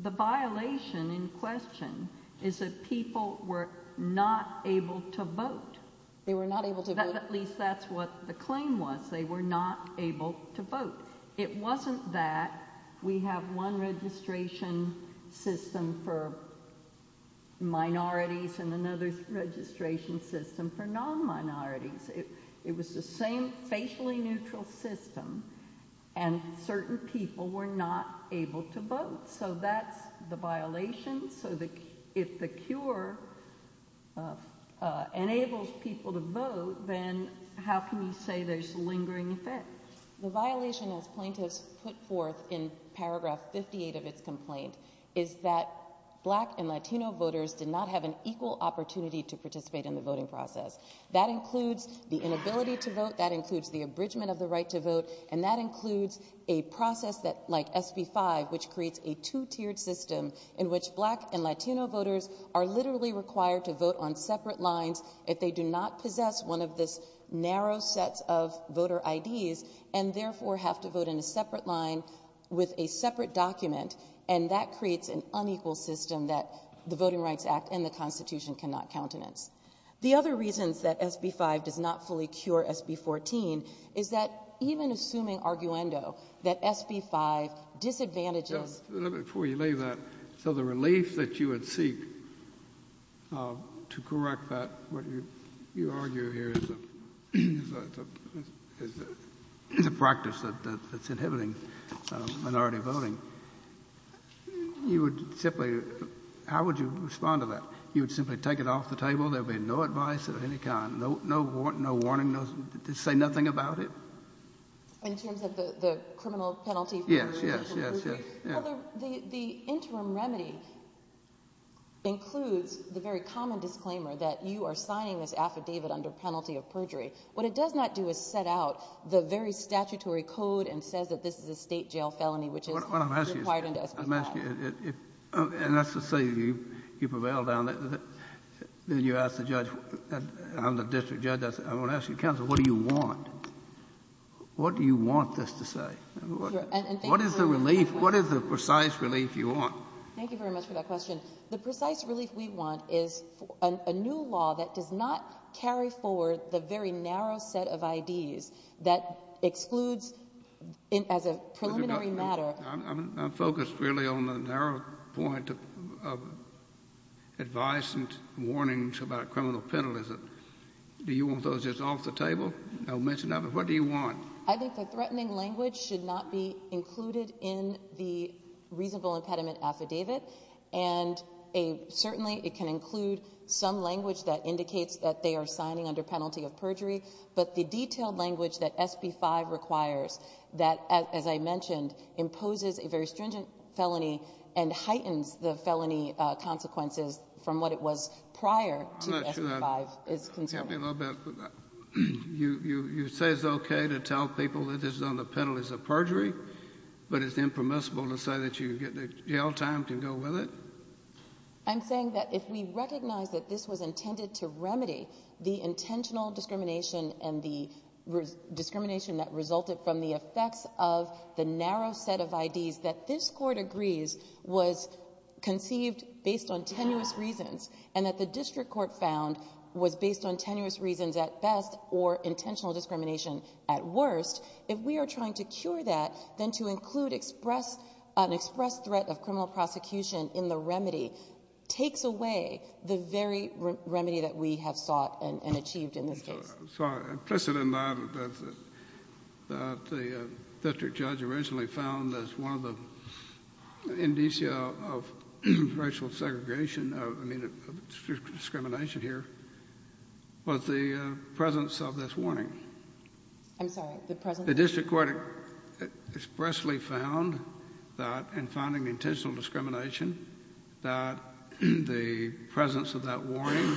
the violation in question is that people were not able to vote. They were not able to vote. At least that's what the claim was. They were not able to vote. It wasn't that we have one registration system for minorities and another registration system for non-minorities. It was the same facially neutral system, and certain people were not able to vote. So that's the violation. So if the cure enables people to vote, then how can you say there's lingering effects? The violation, as plaintiffs put forth in paragraph 58 of its complaint, is that Black and Latino voters did not have an equal opportunity to participate in the voting process. That includes the inability to vote. That includes the abridgment of the right to vote. And that includes a process like SB 5, which creates a two-tiered system in which Black and Latino voters are literally required to vote on separate lines if they do not possess one of this narrow set of voter IDs and therefore have to vote in a separate line with a separate document. And that creates an unequal system that the Voting Rights Act and the Constitution cannot countenance. The other reason that SB 5 did not fully cure SB 14 is that even assuming arguendo, that SB 5 disadvantages... Before you lay that, so the relief that you would seek to correct that, what you argue here is a practice that's inhibiting minority voting, and you would simply, how would you respond to that? You would simply take it off the table. There would be no advice of any kind. No warning. Say nothing about it. In terms of the criminal penalty... Yes, yes, yes, yes. The interim remedies include the very common disclaimer that you are signing this affidavit under penalty of perjury. What it does not do is set out the very statutory code and says that this is a state jail felony, which is required under SB 5. I'm asking you, and that's to say you prevail on it, then you ask the judge, the district judge, I'm going to ask you, counsel, what do you want? What do you want this to say? What is the relief, what is the precise relief you want? Thank you very much for that question. The precise relief we want is a new law that does not carry forward the very narrow set of IDs that excludes, as a preliminary matter... I'm focused really on the narrow point of advice and warnings about criminal penalties. Do you want those just off the table? I'll mention that, but what do you want? I think the threatening language should not be included in the reasonable impediment affidavit, and certainly it can include some language that indicates that they are signing under penalty of perjury, but the detailed language that SB 5 requires that, as I mentioned, imposes a very stringent felony and heightens the felony consequences from what it was prior to SB 5. You say it's okay to tell people that this is under penalties of perjury, but it's impermissible to say that you get the jail time to go with it? I'm saying that if we recognize that this was intended to remedy the intentional discrimination and the discrimination that resulted from the effects of the narrow set of IDs, that this court agrees was conceived based on tenuous reasons, and that the district court found was based on tenuous reasons at best or intentional discrimination at worst, if we are trying to cure that, then to include an express threat of criminal prosecution in the remedy takes away the very remedy that we have sought and achieved in this case. I saw an implicit in mind that the district judge originally found that one of the indicia of racial segregation, I mean discrimination here, was the presence of this warning. The district court expressly found that in finding intentional discrimination that the presence of that warning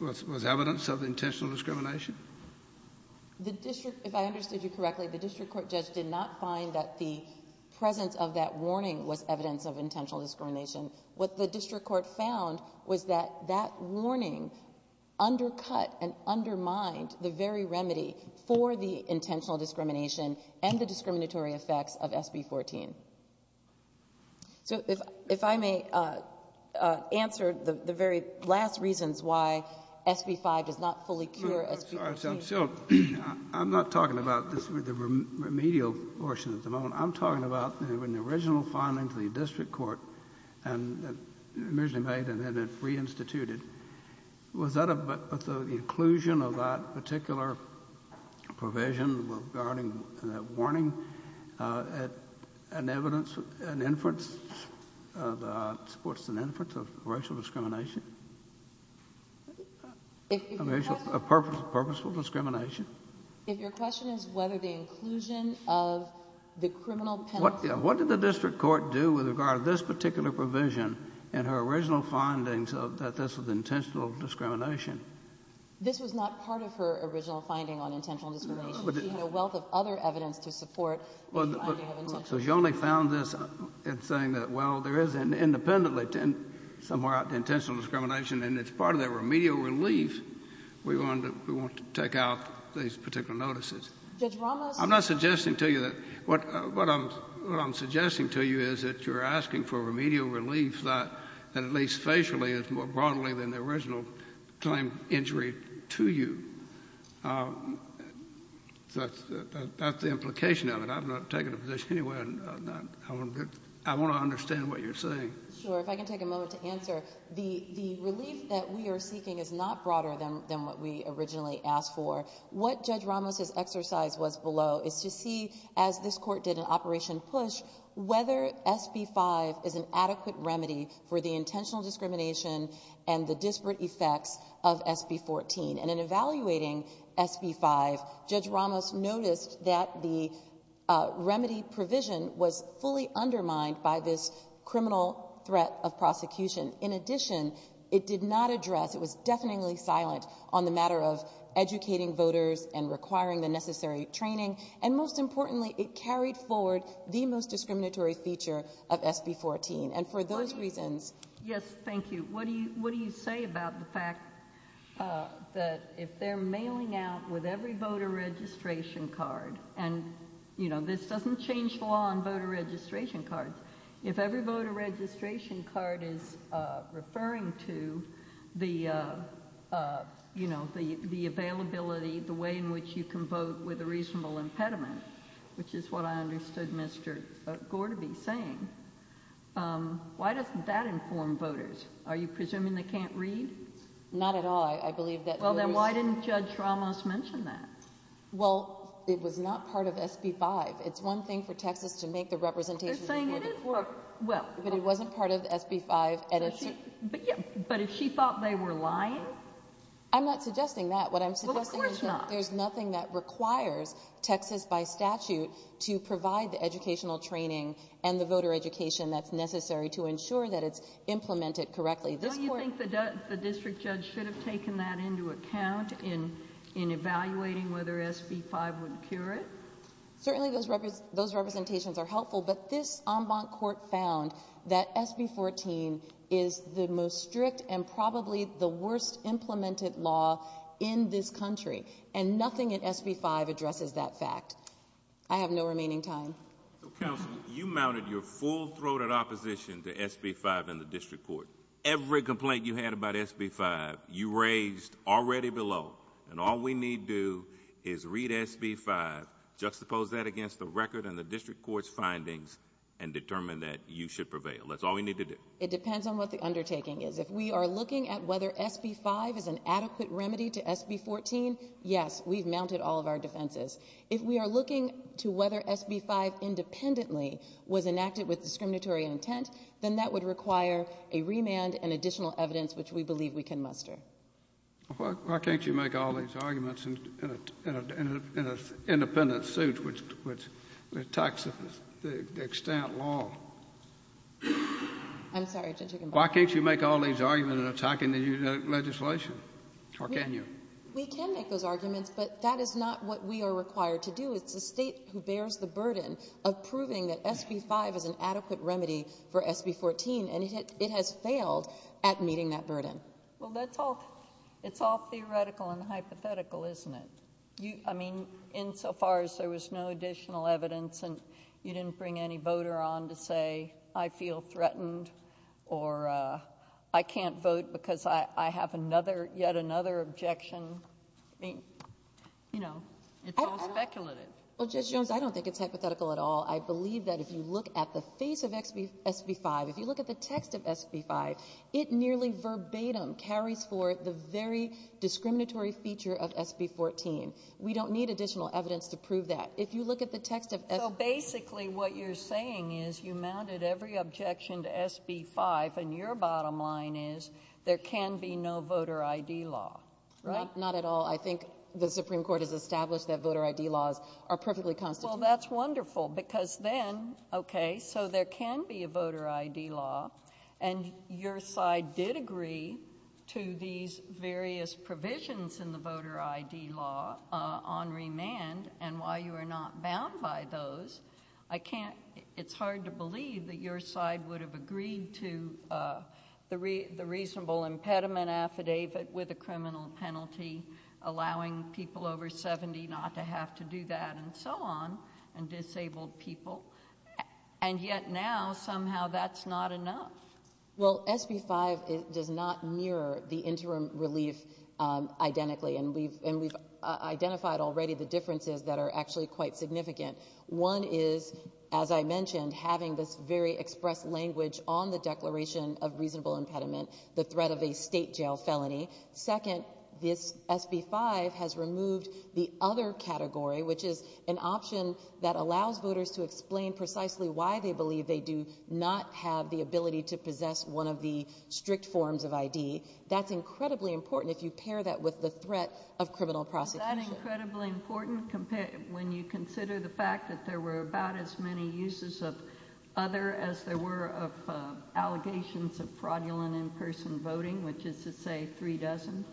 was evidence of intentional discrimination? If I understood you correctly, the district court judge did not find that the presence of that warning was evidence of intentional discrimination. What the district court found was that that warning undercut and undermined the very remedy for the intentional discrimination and the discriminatory effects of SB 14. If I may answer the very last reasons why SB 5 does not fully cure SB 14. I'm not talking about the remedial portion at the moment. I'm talking about when the original findings of the district court were re-instituted, was the inclusion of that particular provision regarding the warning an evidence, an inference, what's an inference of racial discrimination? Purposeful discrimination? If your question is whether the inclusion of the criminal penalty... What did the district court do with regard to this particular provision and her original findings that this was intentional discrimination? This was not part of her original finding on intentional discrimination. There's a wealth of other evidence to support... You only found this in saying that, well, there is an independent somewhere out there intentional discrimination and it's part of that remedial relief. We want to take out these particular notices. What I'm suggesting to you is that you're asking for remedial relief that at least facially is more broadly than the original claim injury to you. That's the implication of it. I want to understand what you're saying. The relief that we are seeking is not broader than what we originally asked for. What Judge Ramos' exercise was below is to see, as this court did in Operation PUSH, whether SB 5 is an adequate remedy for the intentional discrimination and the disparate effects of SB 14. In evaluating SB 5, Judge Ramos noticed that the remedy provision was fully undermined by this criminal threat of prosecution. In addition, it did not address... It was deafeningly silent on the matter of educating voters and requiring the necessary training. And most importantly, it carried forward the most discriminatory feature of SB 14. And for those reasons... Yes, thank you. What do you say about the fact that if they're mailing out with every voter registration card... And this doesn't change the law on voter registration cards. If every voter registration card is referring to the availability, the way in which you can vote with a reasonable impediment, which is what I understood Mr. Gore to be saying, why doesn't that inform voters? Are you presuming they can't read? Not at all. I believe that... Well, then why didn't Judge Ramos mention that? Well, it was not part of SB 5. It's one thing for Texas to make the representation... They're saying it is... But it wasn't part of SB 5. But if she thought they were lying? I'm not suggesting that. What I'm suggesting is that there's nothing that requires Texas by statute to provide the representation. And the district judge should have taken that into account in evaluating whether SB 5 would cure it. Certainly those representations are helpful. But this en banc court found that SB 14 is the most strict and probably the worst implemented law in this country. And nothing in SB 5 addresses that fact. I have no remaining time. Counsel, you mounted your full throated opposition to SB 5 in the district court. Every complaint you had about SB 5, you raised already below. And all we need do is read SB 5, juxtapose that against the record and the district court's findings, and determine that you should prevail. That's all we need to do. It depends on what the undertaking is. If we are looking at whether SB 5 is an adequate remedy to SB 14, yes, we've mounted all of our defenses. If we are looking to whether SB 5 independently was enacted with discriminatory intent, then that would require a remand and additional evidence which we believe we can muster. Why can't you make all these arguments in an independent suit which attacks the extent law? I'm sorry. Why can't you make all these arguments in attacking the legislation? Or can you? We can make those arguments, but that is not what we are required to do. It's the state who bears the burden of proving that SB 5 is an adequate remedy for SB 14. And it has failed at meeting that burden. Well, that's all theoretical and hypothetical, isn't it? I mean, insofar as there was no additional evidence and you didn't bring any I feel threatened or I can't vote because I have yet another objection. You know, it's all speculative. Judge Jones, I don't think it's hypothetical at all. I believe that if you look at the face of SB 5, if you look at the text of SB 5, it nearly verbatim carries forth the very discriminatory feature of SB 14. We don't need additional evidence to prove that. If you look at the text of SB 5. So basically what you're saying is you mounted every objection to SB 5 and your bottom line is there can be no voter ID law. Right? Not at all. I think the Supreme Court has established that voter ID laws are perfectly consistent. Well, that's wonderful because then, okay, so there can be a voter ID law and your side did agree to these various provisions in the voter ID law on remand and while you are not bound by those, I can't, it's hard to believe that your side would have agreed to the reasonable impediment affidavit with a criminal penalty allowing people over 70 not to have to do that and so on and disabled people and yet now somehow that's not enough. Well, SB 5 does not mirror the interim relief identically and we've identified already the differences that are actually quite significant. One is, as I mentioned, having this very expressed language on the declaration of reasonable impediment, the threat of a state jail felony. Second, this SB 5 has removed the other category, which is an option that allows voters to explain precisely why they believe they do not have the ability to possess one of the strict forms of ID. That's incredibly important if you pair that with the threat of criminal prosecution. Is that incredibly important when you consider the fact that there were about as many uses of other as there were of allegations of fraudulent in-person voting, which is to say three dozen?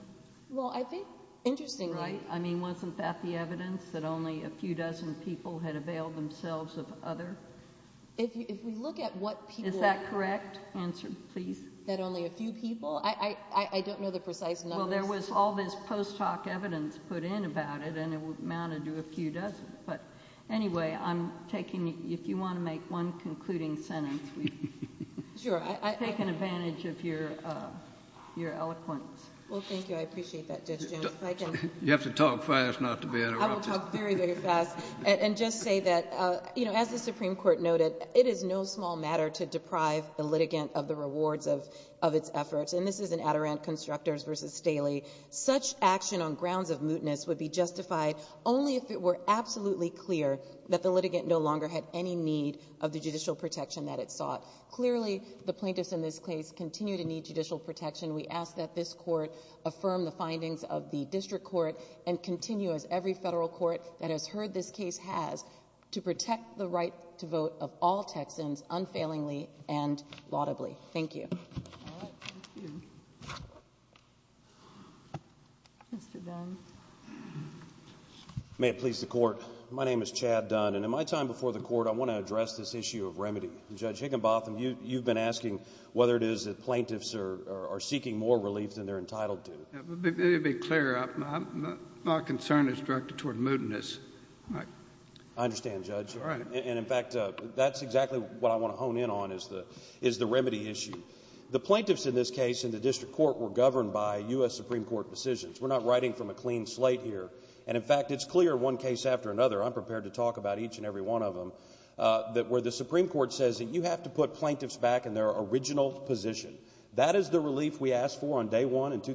Well, I think, interestingly... Right? I mean, wasn't that the evidence that only a few dozen people had availed themselves of other? If we look at what people... Is that correct? Answer, please. That only a few people? I don't know the precise number. Well, there was all this post hoc evidence put in about it, and it would amount to a few dozen. But anyway, I'm taking... If you want to make one concluding sentence, please. Sure. I take an advantage of your eloquence. Well, thank you. I appreciate that, Judge Jones. You have to talk fast enough to be able to... I will talk very, very fast and just say that, you know, as the Supreme Court noted, it is no small matter to deprive the litigant of the absoluteness would be justified only if it were absolutely clear that the litigant no longer had any need of the judicial protection that it sought. Clearly, the plaintiffs in this case continue to need judicial protection. We ask that this court affirm the findings of the district court and continue, as every federal court that has heard this case has, to protect the right to vote of all Texans unfailingly and laudably. Thank you. May it please the Court. My name is Chad Dunn, and in my time before the Court, I want to address this issue of remedy. Judge Higginbotham, you've been asking whether it is that plaintiffs are seeking more relief than they're entitled to. Let me be clear. My concern is directed toward moodiness. I understand, Judge. And, in fact, that's exactly what I want to hone in on is the remedy issue. The plaintiffs in this case in the district court were governed by U.S. Supreme Court decisions. We're not writing from a clean slate here. And, in fact, it's clear in one case after another, I'm prepared to talk about each and every one of them, that where the Supreme Court says that you have to put plaintiffs back in their original position, that is the relief we need. In other words,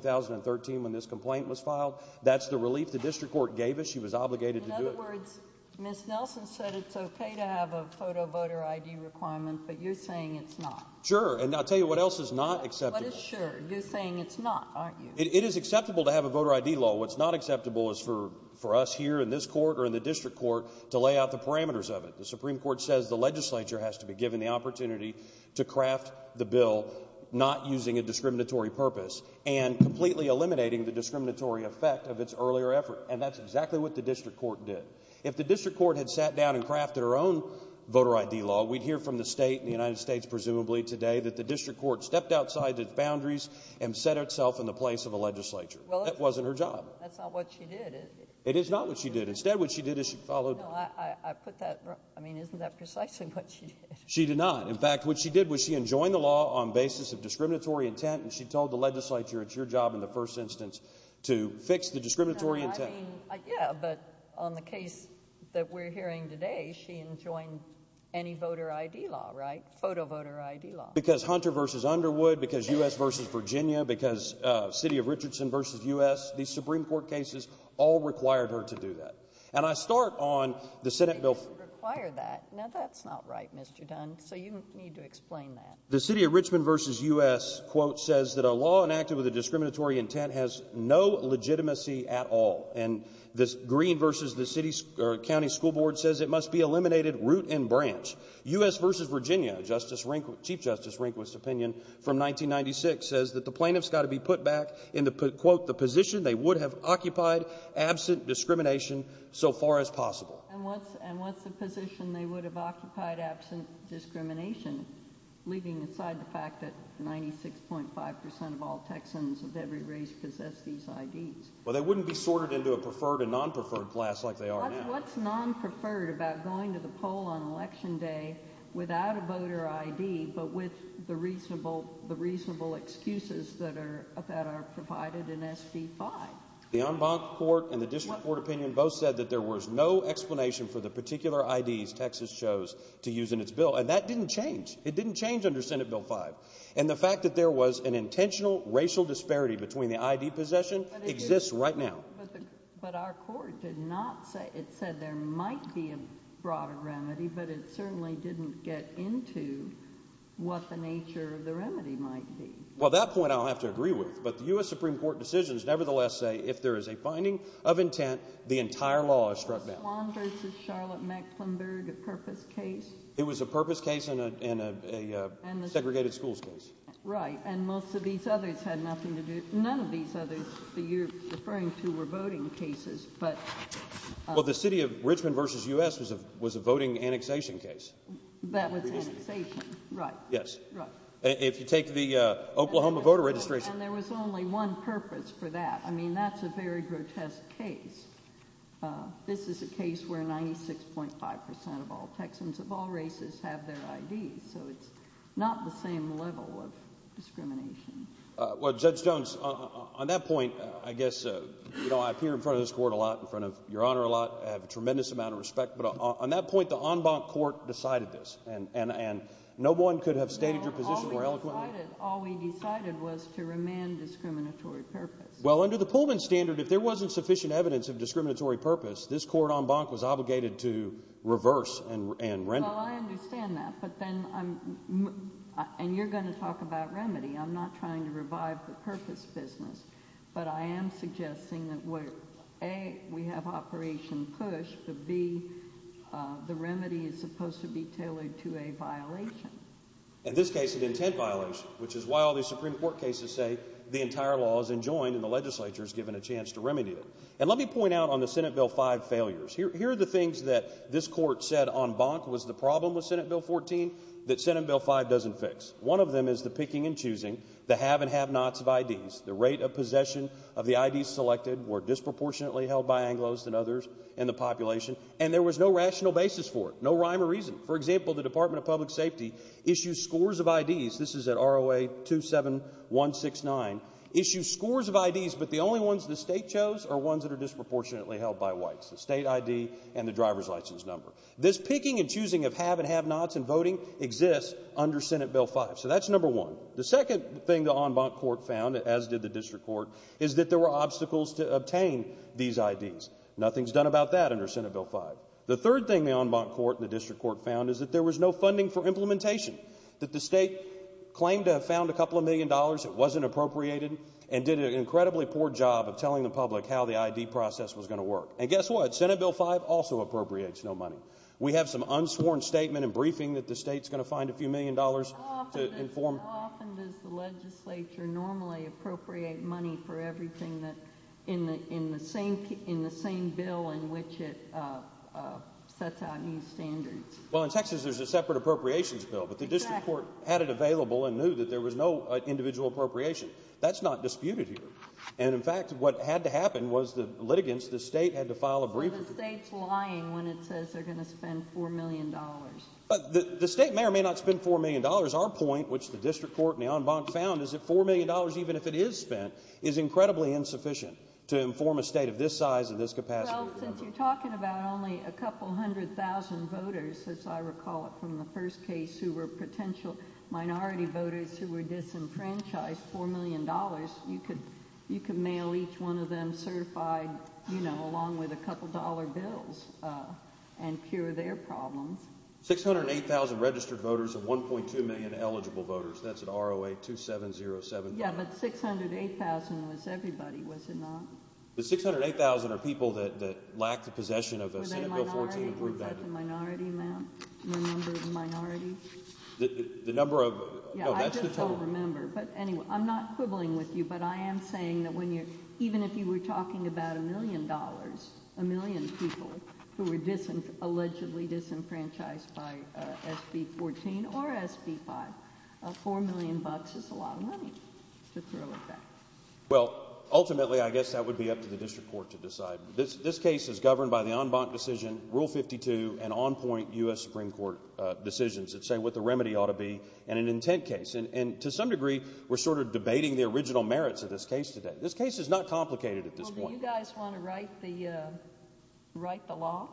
Ms. Nelson said it's okay to have a photo voter ID requirement, but you're saying it's not. Sure. And I'll tell you what else is not acceptable. What is sure? You're saying it's not, aren't you? It is acceptable to have a voter ID law. What's not acceptable is for us here in this court or in the district court to lay out the parameters of it. The Supreme Court says the legislature has to be given the opportunity to craft the bill not using a discriminatory purpose and completely eliminating the discriminatory effect of its earlier effort. And that's exactly what the district court did. If the district court had sat down and crafted our own voter ID law, we'd hear from the state and the United States, presumably, today that the district court stepped outside the boundaries and set itself in the place of a legislature. That wasn't her job. That's not what she did, is it? It is not what she did. Instead, what she did is she followed... No, I put that... I mean, isn't that precisely what she did? She did not. In fact, what she did was she enjoined the law on the basis of discriminatory intent, and she told the legislature it's your job in the first instance to fix the discriminatory intent. I mean, yeah, but on the case that we're hearing today, she enjoined any voter ID law, right? Photo voter ID law. Because Hunter v. Underwood, because U.S. v. Virginia, because City of Richardson v. U.S., these Supreme Court cases all required her to do that. And I start on the Senate bill... Require that? Now that's not right, Mr. Dunn, so you need to explain that. The City of Richmond v. U.S. says that a law enacted with a discriminatory intent has no legitimacy at all. And this Green v. the County School Board says it must be eliminated root and branch. U.S. v. Virginia, Chief Justice Rehnquist's opinion from 1996 says that the plaintiff's got to be put back into, quote, the position they would have occupied absent discrimination so far as possible. And what's the position they would have occupied absent discrimination, leaving aside the fact that 96.5% of all Texans of every race possess these IDs? Well, they wouldn't be sorted into a preferred and non-preferred class like they are now. What's non-preferred about going to the poll on Election Day without a voter ID but with the reasonable excuses that are provided in SB 5? The en banc court and the District Court opinion both said that there was no explanation for the particular IDs Texas chose to use in its bill. And that didn't change. It didn't change under Senate Bill 5. And the fact that there was an intentional racial disparity between the ID possession exists right now. But our court did not say, it said there might be a broader remedy, but it certainly didn't get into what the nature of the remedy might be. Well, that point I don't have to agree with, but U.S. Supreme Court decisions nevertheless say if there is a finding of intent, the entire law is struck down. Lawn v. Charlotte-Maxwell buried a purpose case? It was a purpose case and a segregated schools case. Right, and most of these others had nothing to do, none of these others that you're referring to were voting cases, but... Well, the city of Richmond v. U.S. was a voting annexation case. That was annexation, right. Yes. If you take the Oklahoma voter registration... And there was only one purpose for that. I mean, that's a very grotesque case. This is a case where 96.5% of all Texans of all races have their IDs, so it's not the same level of discrimination. Well, Judge Jones, on that point, I guess, you know, I appear in front of this court a lot, in front of Your Honor a lot, I have a tremendous amount of respect, but on that point, the en banc court decided this, and no one could have... All we decided was to remand discriminatory purpose. Well, under the Pullman standard, if there wasn't sufficient evidence of discriminatory purpose, this court en banc was obligated to reverse and remedy. Well, I understand that, but then, and you're going to talk about remedy, I'm not trying to revive the purpose business, but I am suggesting that, A, we have Operation Push, but, B, the remedy is supposed to be tailored to a violation. In this case, an intent violation, which is why all these Supreme Court cases say the entire law is enjoined and the legislature is given a chance to remedy it. And let me point out on the Senate Bill 5 failures. Here are the things that this court said en banc was the problem with Senate Bill 14 that Senate Bill 5 doesn't fix. One of them is the picking and choosing the have and have-nots of IDs. The rate of possession of the IDs selected were disproportionately held by Anglos and others in the population, and there was no rational basis for it, no rhyme or reason. For example, the Department of Public Safety issued scores of IDs. This is at ROA 27169, issued scores of IDs, but the only ones the state chose are ones that are disproportionately held by whites, the state ID and the driver's license number. This picking and choosing of have and have-nots in voting exists under Senate Bill 5, so that's number one. The second thing the en banc court found, as did the district court, is that there were obstacles to obtain these IDs. Nothing's done about that under Senate Bill 5. The third thing the en banc court and the district court found is that there was no funding for implementation, that the state claimed to have found a couple of million dollars that wasn't appropriated and did an incredibly poor job of telling the public how the ID process was going to work. And guess what? Senate Bill 5 also appropriates no money. We have some unsworn statement and briefing that the state's going to find a few million dollars to inform. How often does the legislature normally appropriate money for everything in the same bill in which it sets out new standards? Well, in Texas there's a separate appropriations bill, but the district court had it available and knew that there was no individual appropriation. That's not disputed here. And, in fact, what had to happen was the litigants, the state, had to file a briefing. But the state's lying when it says they're going to spend $4 million. The state may or may not spend $4 million. Our point, which the district court and the en banc found, is that $4 million, even if it is spent, is incredibly insufficient to inform a state of this size and this capacity. Well, since you're talking about only a couple hundred thousand voters, as I recall it from the first case, who were potential minority voters who were disenfranchised, $4 million, you could mail each one of them certified, you know, along with a couple dollar bills and cure their problem. Six hundred and eight thousand registered voters and 1.2 million eligible voters. That's at ROA 2707. Yeah, but 608,000 was everybody, was it not? But 608,000 are people that lack the possession of a San Diego Fortuny group member. The minority, ma'am? The number of minorities? The number of, no, that's the total. Yeah, I just don't remember. But anyway, I'm not quibbling with you, but I am saying that even if you were talking about a million dollars, a million people who were allegedly disenfranchised by SB 14 or SB 5, $4 million is a lot of money to throw at that. Well, ultimately, I guess that would be up to the district court to decide. This case is governed by the en banc decision, Rule 52, and on-point U.S. Supreme Court decisions that say what the remedy ought to be and an intent case. And to some degree, we're sort of debating the original merits of this case today. This case is not complicated at this point. Well, do you guys want to write the law?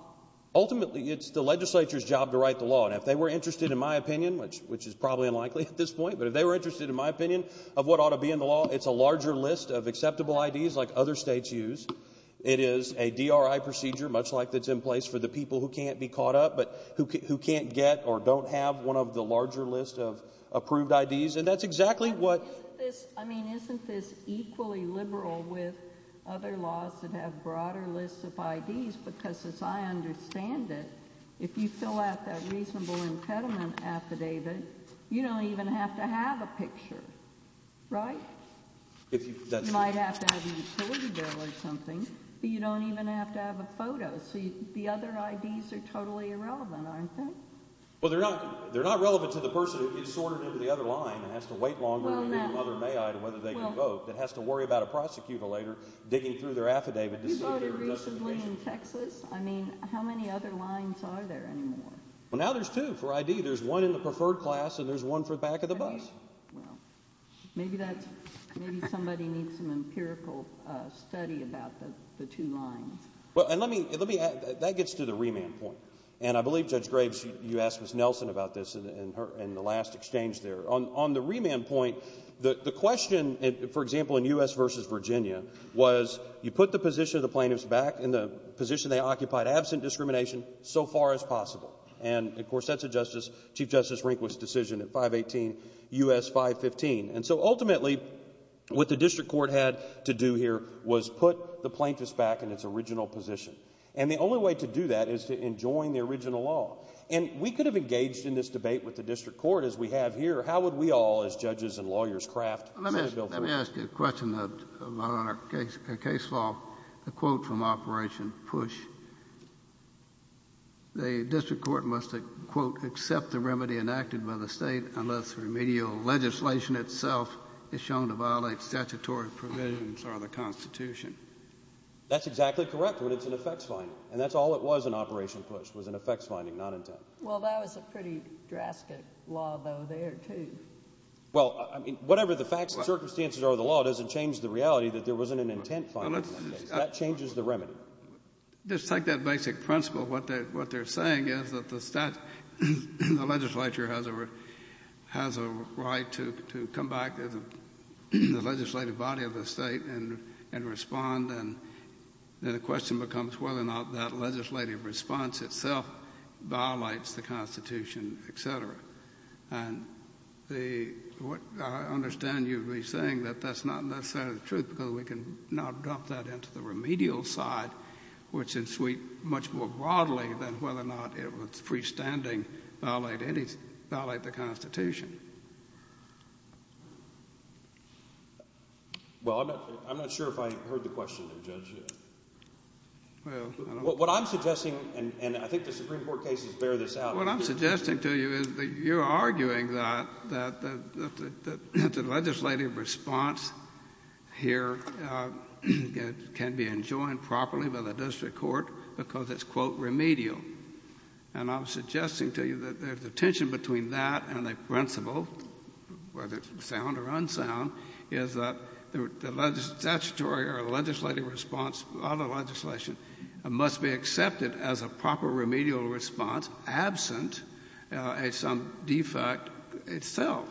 Ultimately, it's the legislature's job to write the law. And if they were interested, in my opinion, which is probably unlikely at this point, but if they were interested, in my opinion, of what ought to be in the law, it's a larger list of acceptable IDs like other states use. It is a DRI procedure, much like that's in place for the people who can't be caught up, but who can't get or don't have one of the larger lists of approved IDs. And that's exactly what... I mean, isn't this equally liberal with other laws that have broader lists of IDs? Because as I understand it, if you fill out that reasonable impediment affidavit, you don't even have to have a picture, right? You might have to have a utility bill or something, but you don't even have to have a photo. So the other IDs are totally irrelevant, aren't they? Well, they're not relevant to the person who's distorted into the other line and has to wait longer than the other may I to whether they can vote, that has to worry about a prosecutor later digging through their affidavit. You voted recently in Texas. I mean, how many other lines are there anymore? Well, now there's two for ID. There's one in the preferred class, and there's one for the back of the bus. Well, maybe somebody needs some empirical study about the two lines. Well, and let me add, that gets to the remand point. And I believe Judge Graves, you asked Ms. Nelson about this in the last exchange there. On the remand point, the question, for example, in U.S. v. Virginia, was you put the position of the plaintiffs back in the position they occupied absent discrimination so far as possible. And, of course, that's a Chief Justice Rehnquist decision at 518 U.S. 515. And so ultimately what the district court had to do here was put the plaintiffs back in its original position. And the only way to do that is to enjoin the original law. And we could have engaged in this debate with the district court as we have here. How would we all as judges and lawyers craft this bill? Let me ask you a question about our case law. A quote from Operation Push. The district court must, a quote, accept the remedy enacted by the state unless remedial legislation itself is shown to violate statutory provisions of the Constitution. That's exactly correct, but it's an effects finding. And that's all it was in Operation Push was an effects finding, not intent. Well, that was a pretty drastic law though there too. Well, I mean, whatever the facts and circumstances are of the law doesn't change the reality that there wasn't an intent finding. That changes the remedy. Well, just take that basic principle. What they're saying is that the legislature has a right to come back to the legislative body of the state and respond, and then the question becomes whether or not that legislative response itself violates the Constitution, et cetera. And I understand you'd be saying that that's not necessarily the truth because we can now drop that into the remedial side, which is much more broadly than whether or not it was freestanding violate the Constitution. Well, I'm not sure if I heard the question, Judge. What I'm suggesting, and I think the Supreme Court cases bear this out. What I'm suggesting to you is that you're arguing that the legislative response here can be enjoined properly by the district court because it's, quote, remedial. And I'm suggesting to you that the tension between that and the principle, whether it's sound or unsound, is that the statutory or legislative response of the legislation must be accepted as a proper remedial response absent of some defect itself.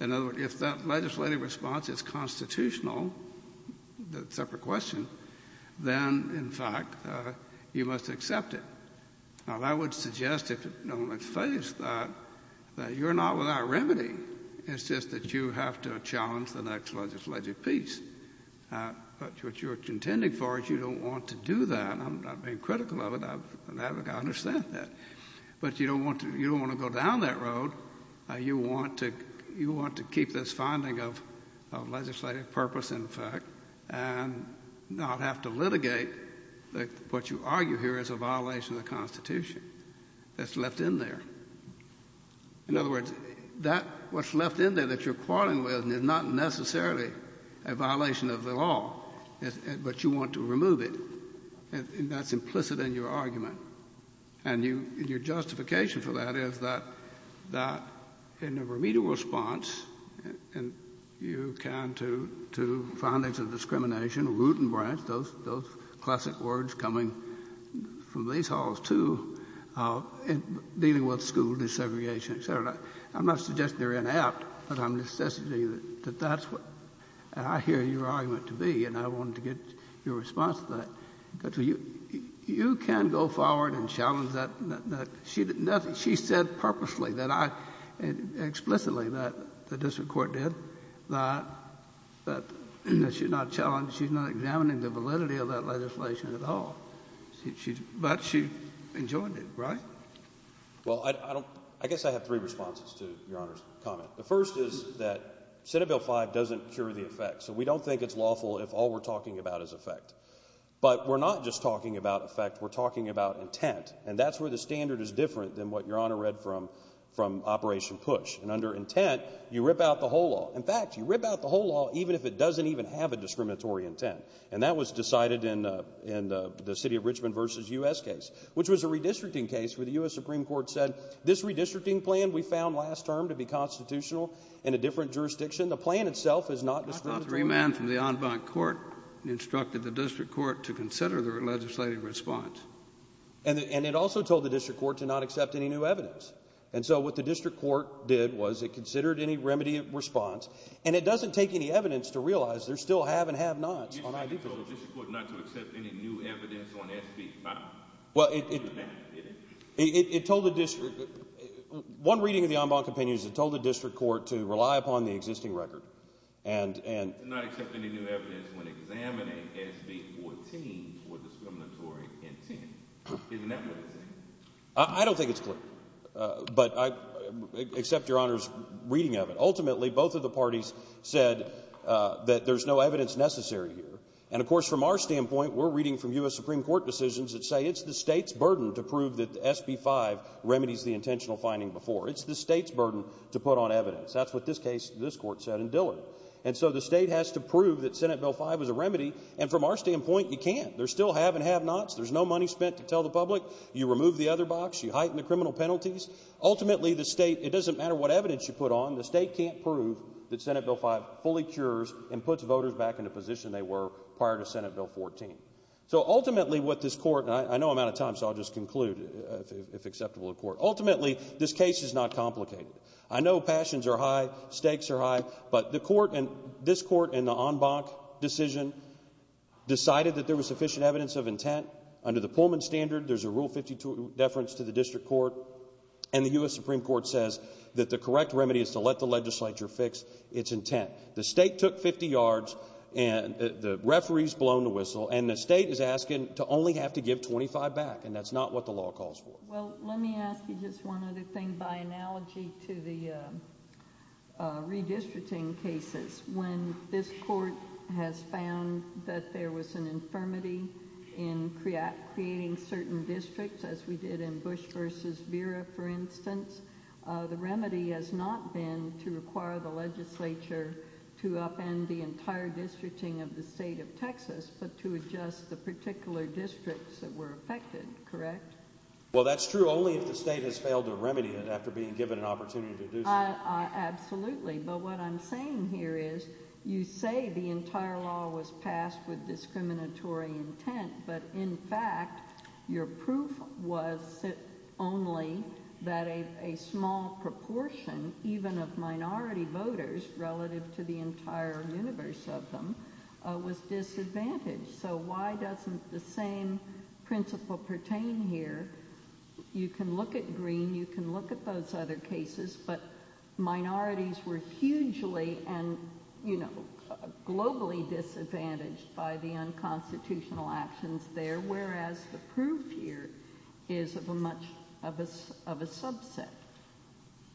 In other words, if that legislative response is constitutional, that's a separate question, then, in fact, you must accept it. Now, that would suggest that you're not without remedy. It's just that you have to challenge the next legislative piece. But what you're contending for is you don't want to do that. I'm not being critical of it. I understand that. But you don't want to go down that road. You want to keep this finding of legislative purpose, in fact, and not have to litigate what you argue here is a violation of the Constitution that's left in there. In other words, what's left in there that you're quarreling with is not necessarily a violation of the law, but you want to remove it. And that's implicit in your argument. And your justification for that is that in a remedial response, you can to findings of discrimination, root and branch, those classic words coming from these halls, to dealing with school desegregation, et cetera. I'm not suggesting they're inept, but I'm suggesting that that's what I hear your argument to be, and I wanted to get your response to that. You can go forward and challenge that. She said purposely, explicitly, that the district court did, but she's not examining the validity of that legislation at all. But she enjoyed it, right? Well, I guess I have three responses to Your Honor's comment. The first is that Senate Bill 5 doesn't cure the effect, so we don't think it's lawful if all we're talking about is effect. But we're not just talking about effect. We're talking about intent, and that's where the standard is different than what Your Honor read from Operation Push. And under intent, you rip out the whole law. In fact, you rip out the whole law even if it doesn't even have a discriminatory intent. And that was decided in the city of Richmond v. U.S. case, which was a redistricting case where the U.S. Supreme Court said, this redistricting plan we found last term to be constitutional in a different jurisdiction. The plan itself is not discriminatory. It was passed without remand from the en banc court and instructed the district court to consider the legislative response. And it also told the district court to not accept any new evidence. And so what the district court did was it considered any remedy response, and it doesn't take any evidence to realize there's still have and have nots on how to do things. You told the district court not to accept any new evidence on S.P.E. 5. Well, it told the district. One reading of the en banc opinion is it told the district court to rely upon the existing record and not accept any new evidence when examining S.P.E. 14 for discriminatory intent. Isn't that what it said? I don't think it's clear, but I accept Your Honor's reading of it. Ultimately, both of the parties said that there's no evidence necessary here. And, of course, from our standpoint, we're reading from U.S. Supreme Court decisions that say it's the state's burden to prove that S.P.E. 5 remedies the intentional finding before. It's the state's burden to put on evidence. That's what this case, this court said in Dillard. And so the state has to prove that S.P.E. 5 is a remedy. And from our standpoint, you can't. There's still have and have nots. There's no money spent to tell the public. You remove the other box. You heighten the criminal penalties. Ultimately, the state, it doesn't matter what evidence you put on, the state can't prove that S.P.E. 5 fully cures and puts voters back in the position they were prior to S.P.E. 14. So, ultimately, what this court, and I know I'm out of time, so I'll just conclude if acceptable to the court. Ultimately, this case is not complicated. I know passions are high. Stakes are high. But the court and this court and the en banc decision decided that there was sufficient evidence of intent. Under the Pullman standard, there's a Rule 52 deference to the district court, and the U.S. Supreme Court says that the correct remedy is to let the legislature fix its intent. The state took 50 yards, and the referees blown the whistle, and the state is asking to only have to give 25 back, and that's not what the law calls for. Well, let me ask you just one other thing by analogy to the redistricting cases. When this court has found that there was an infirmity in creating certain districts, as we did in Bush v. Vera, for instance, the remedy has not been to require the legislature to upend the entire districting of the state of Texas, but to adjust the particular districts that were affected, correct? Well, that's true only if the state has failed to remedy it after being given an opportunity to do so. Absolutely. But what I'm saying here is you say the entire law was passed with discriminatory intent, but in fact your proof was only that a small proportion, even of minority voters relative to the entire universe of them, was disadvantaged. So why doesn't the same principle pertain here? You can look at Green, you can look at those other cases, but minorities were hugely and, you know, globally disadvantaged by the unconstitutional actions there, whereas the proof here is of a subset.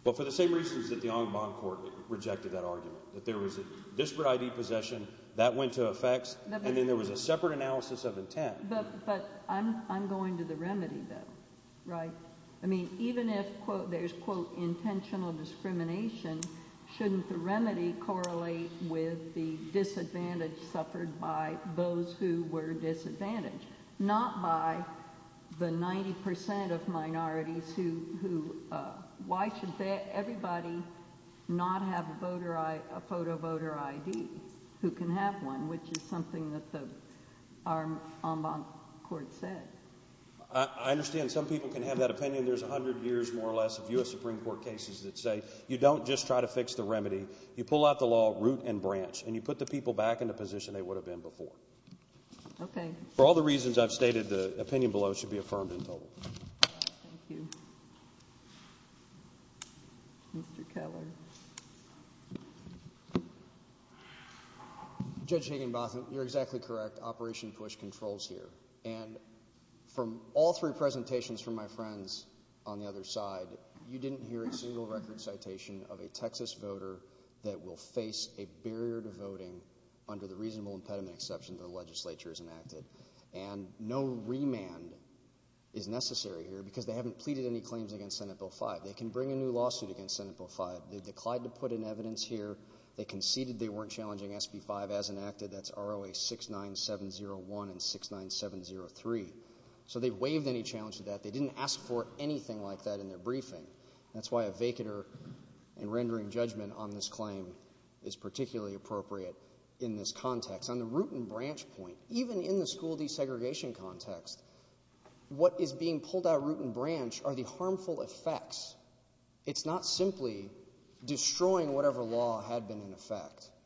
Well, for the same reasons that the Ombud Court rejected that argument. That there was a district ID possession, that went to effects, and then there was a separate analysis of intent. But I'm going to the remedy, though, right? I mean, even if there's, quote, intentional discrimination, shouldn't the remedy correlate with the disadvantage suffered by those who were disadvantaged, not by the 90% of minorities who, why should everybody not have a photo voter ID, who can have one, which is something that the Ombud Court said. I understand some people can have that opinion. There's a hundred years, more or less, of U.S. Supreme Court cases that say you don't just try to fix the remedy. You pull out the law root and branch, and you put the people back in the position they would have been before. Okay. For all the reasons I've stated, the opinion below should be affirmed and told. Thank you. Mr. Keller. Judge Negenbachman, you're exactly correct. Operation Bush controls here. And from all three presentations from my friends on the other side, you didn't hear a single record citation of a Texas voter that will face a barrier to voting under the reasonable impediment exceptions the legislature has enacted. And no remand is necessary here because they haven't pleaded any claims against Senate Bill 5. They can bring a new lawsuit against Senate Bill 5. They declined to put in evidence here. They conceded they weren't challenging SB 5 as enacted. That's ROA 69701 and 69703. So they waived any challenge to that. They didn't ask for anything like that in their briefing. That's why a vacater in rendering judgment on this claim is particularly appropriate in this context. On the root and branch point, even in the school desegregation context, what is being pulled out root and branch are the harmful effects.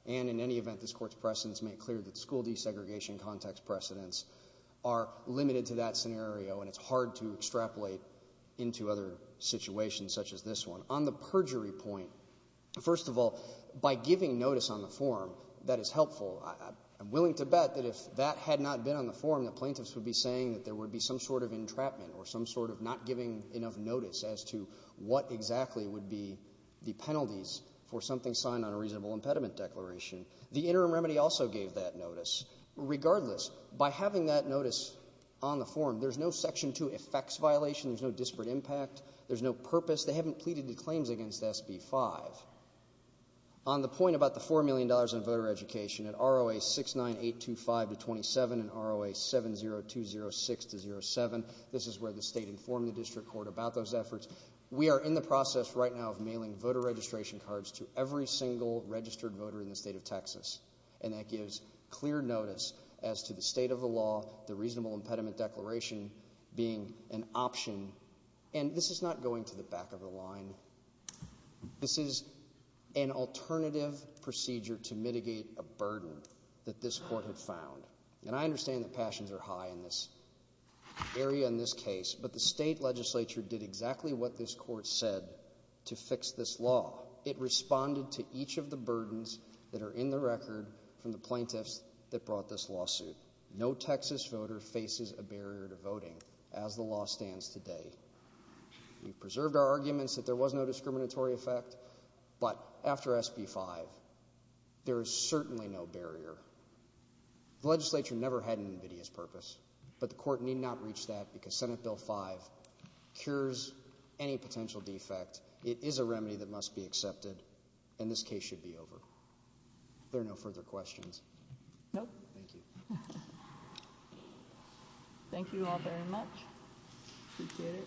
And in any event, this Court's precedents make clear that school desegregation context precedents are limited to that scenario, and it's hard to extrapolate into other situations such as this one. On the perjury point, first of all, by giving notice on the form that is helpful, I'm willing to bet that if that had not been on the form, the plaintiffs would be saying that there would be some sort of entrapment or some sort of not giving enough notice as to what exactly would be the penalties for something signed on a reasonable impediment declaration. The interim remedy also gave that notice. Regardless, by having that notice on the form, there's no Section 2 effects violation. There's no disparate impact. There's no purpose. They haven't pleaded the claims against SB 5. On the point about the $4 million in voter education, in ROA 69825-27 and ROA 70206-07, this is where the State informed the District Court about those efforts. We are in the process right now of mailing voter registration cards to every single registered voter in the State of Texas, and that gives clear notice as to the state of the law, the reasonable impediment declaration being an option. And this is not going to the back of the line. This is an alternative procedure to mitigate a burden that this Court has found. And I understand the passions are high in this area in this case, but the State Legislature did exactly what this Court said to fix this law. It responded to each of the burdens that are in the record from the plaintiffs that brought this lawsuit. No Texas voter faces a barrier to voting as the law stands today. We preserved our arguments that there was no discriminatory effect, but after SB 5, there is certainly no barrier. The Legislature never had an invidious purpose, but the Court need not reach that because SB 5 cures any potential defect. It is a remedy that must be accepted, and this case should be over. Are there no further questions? No. Thank you. Thank you all very much. Appreciate it.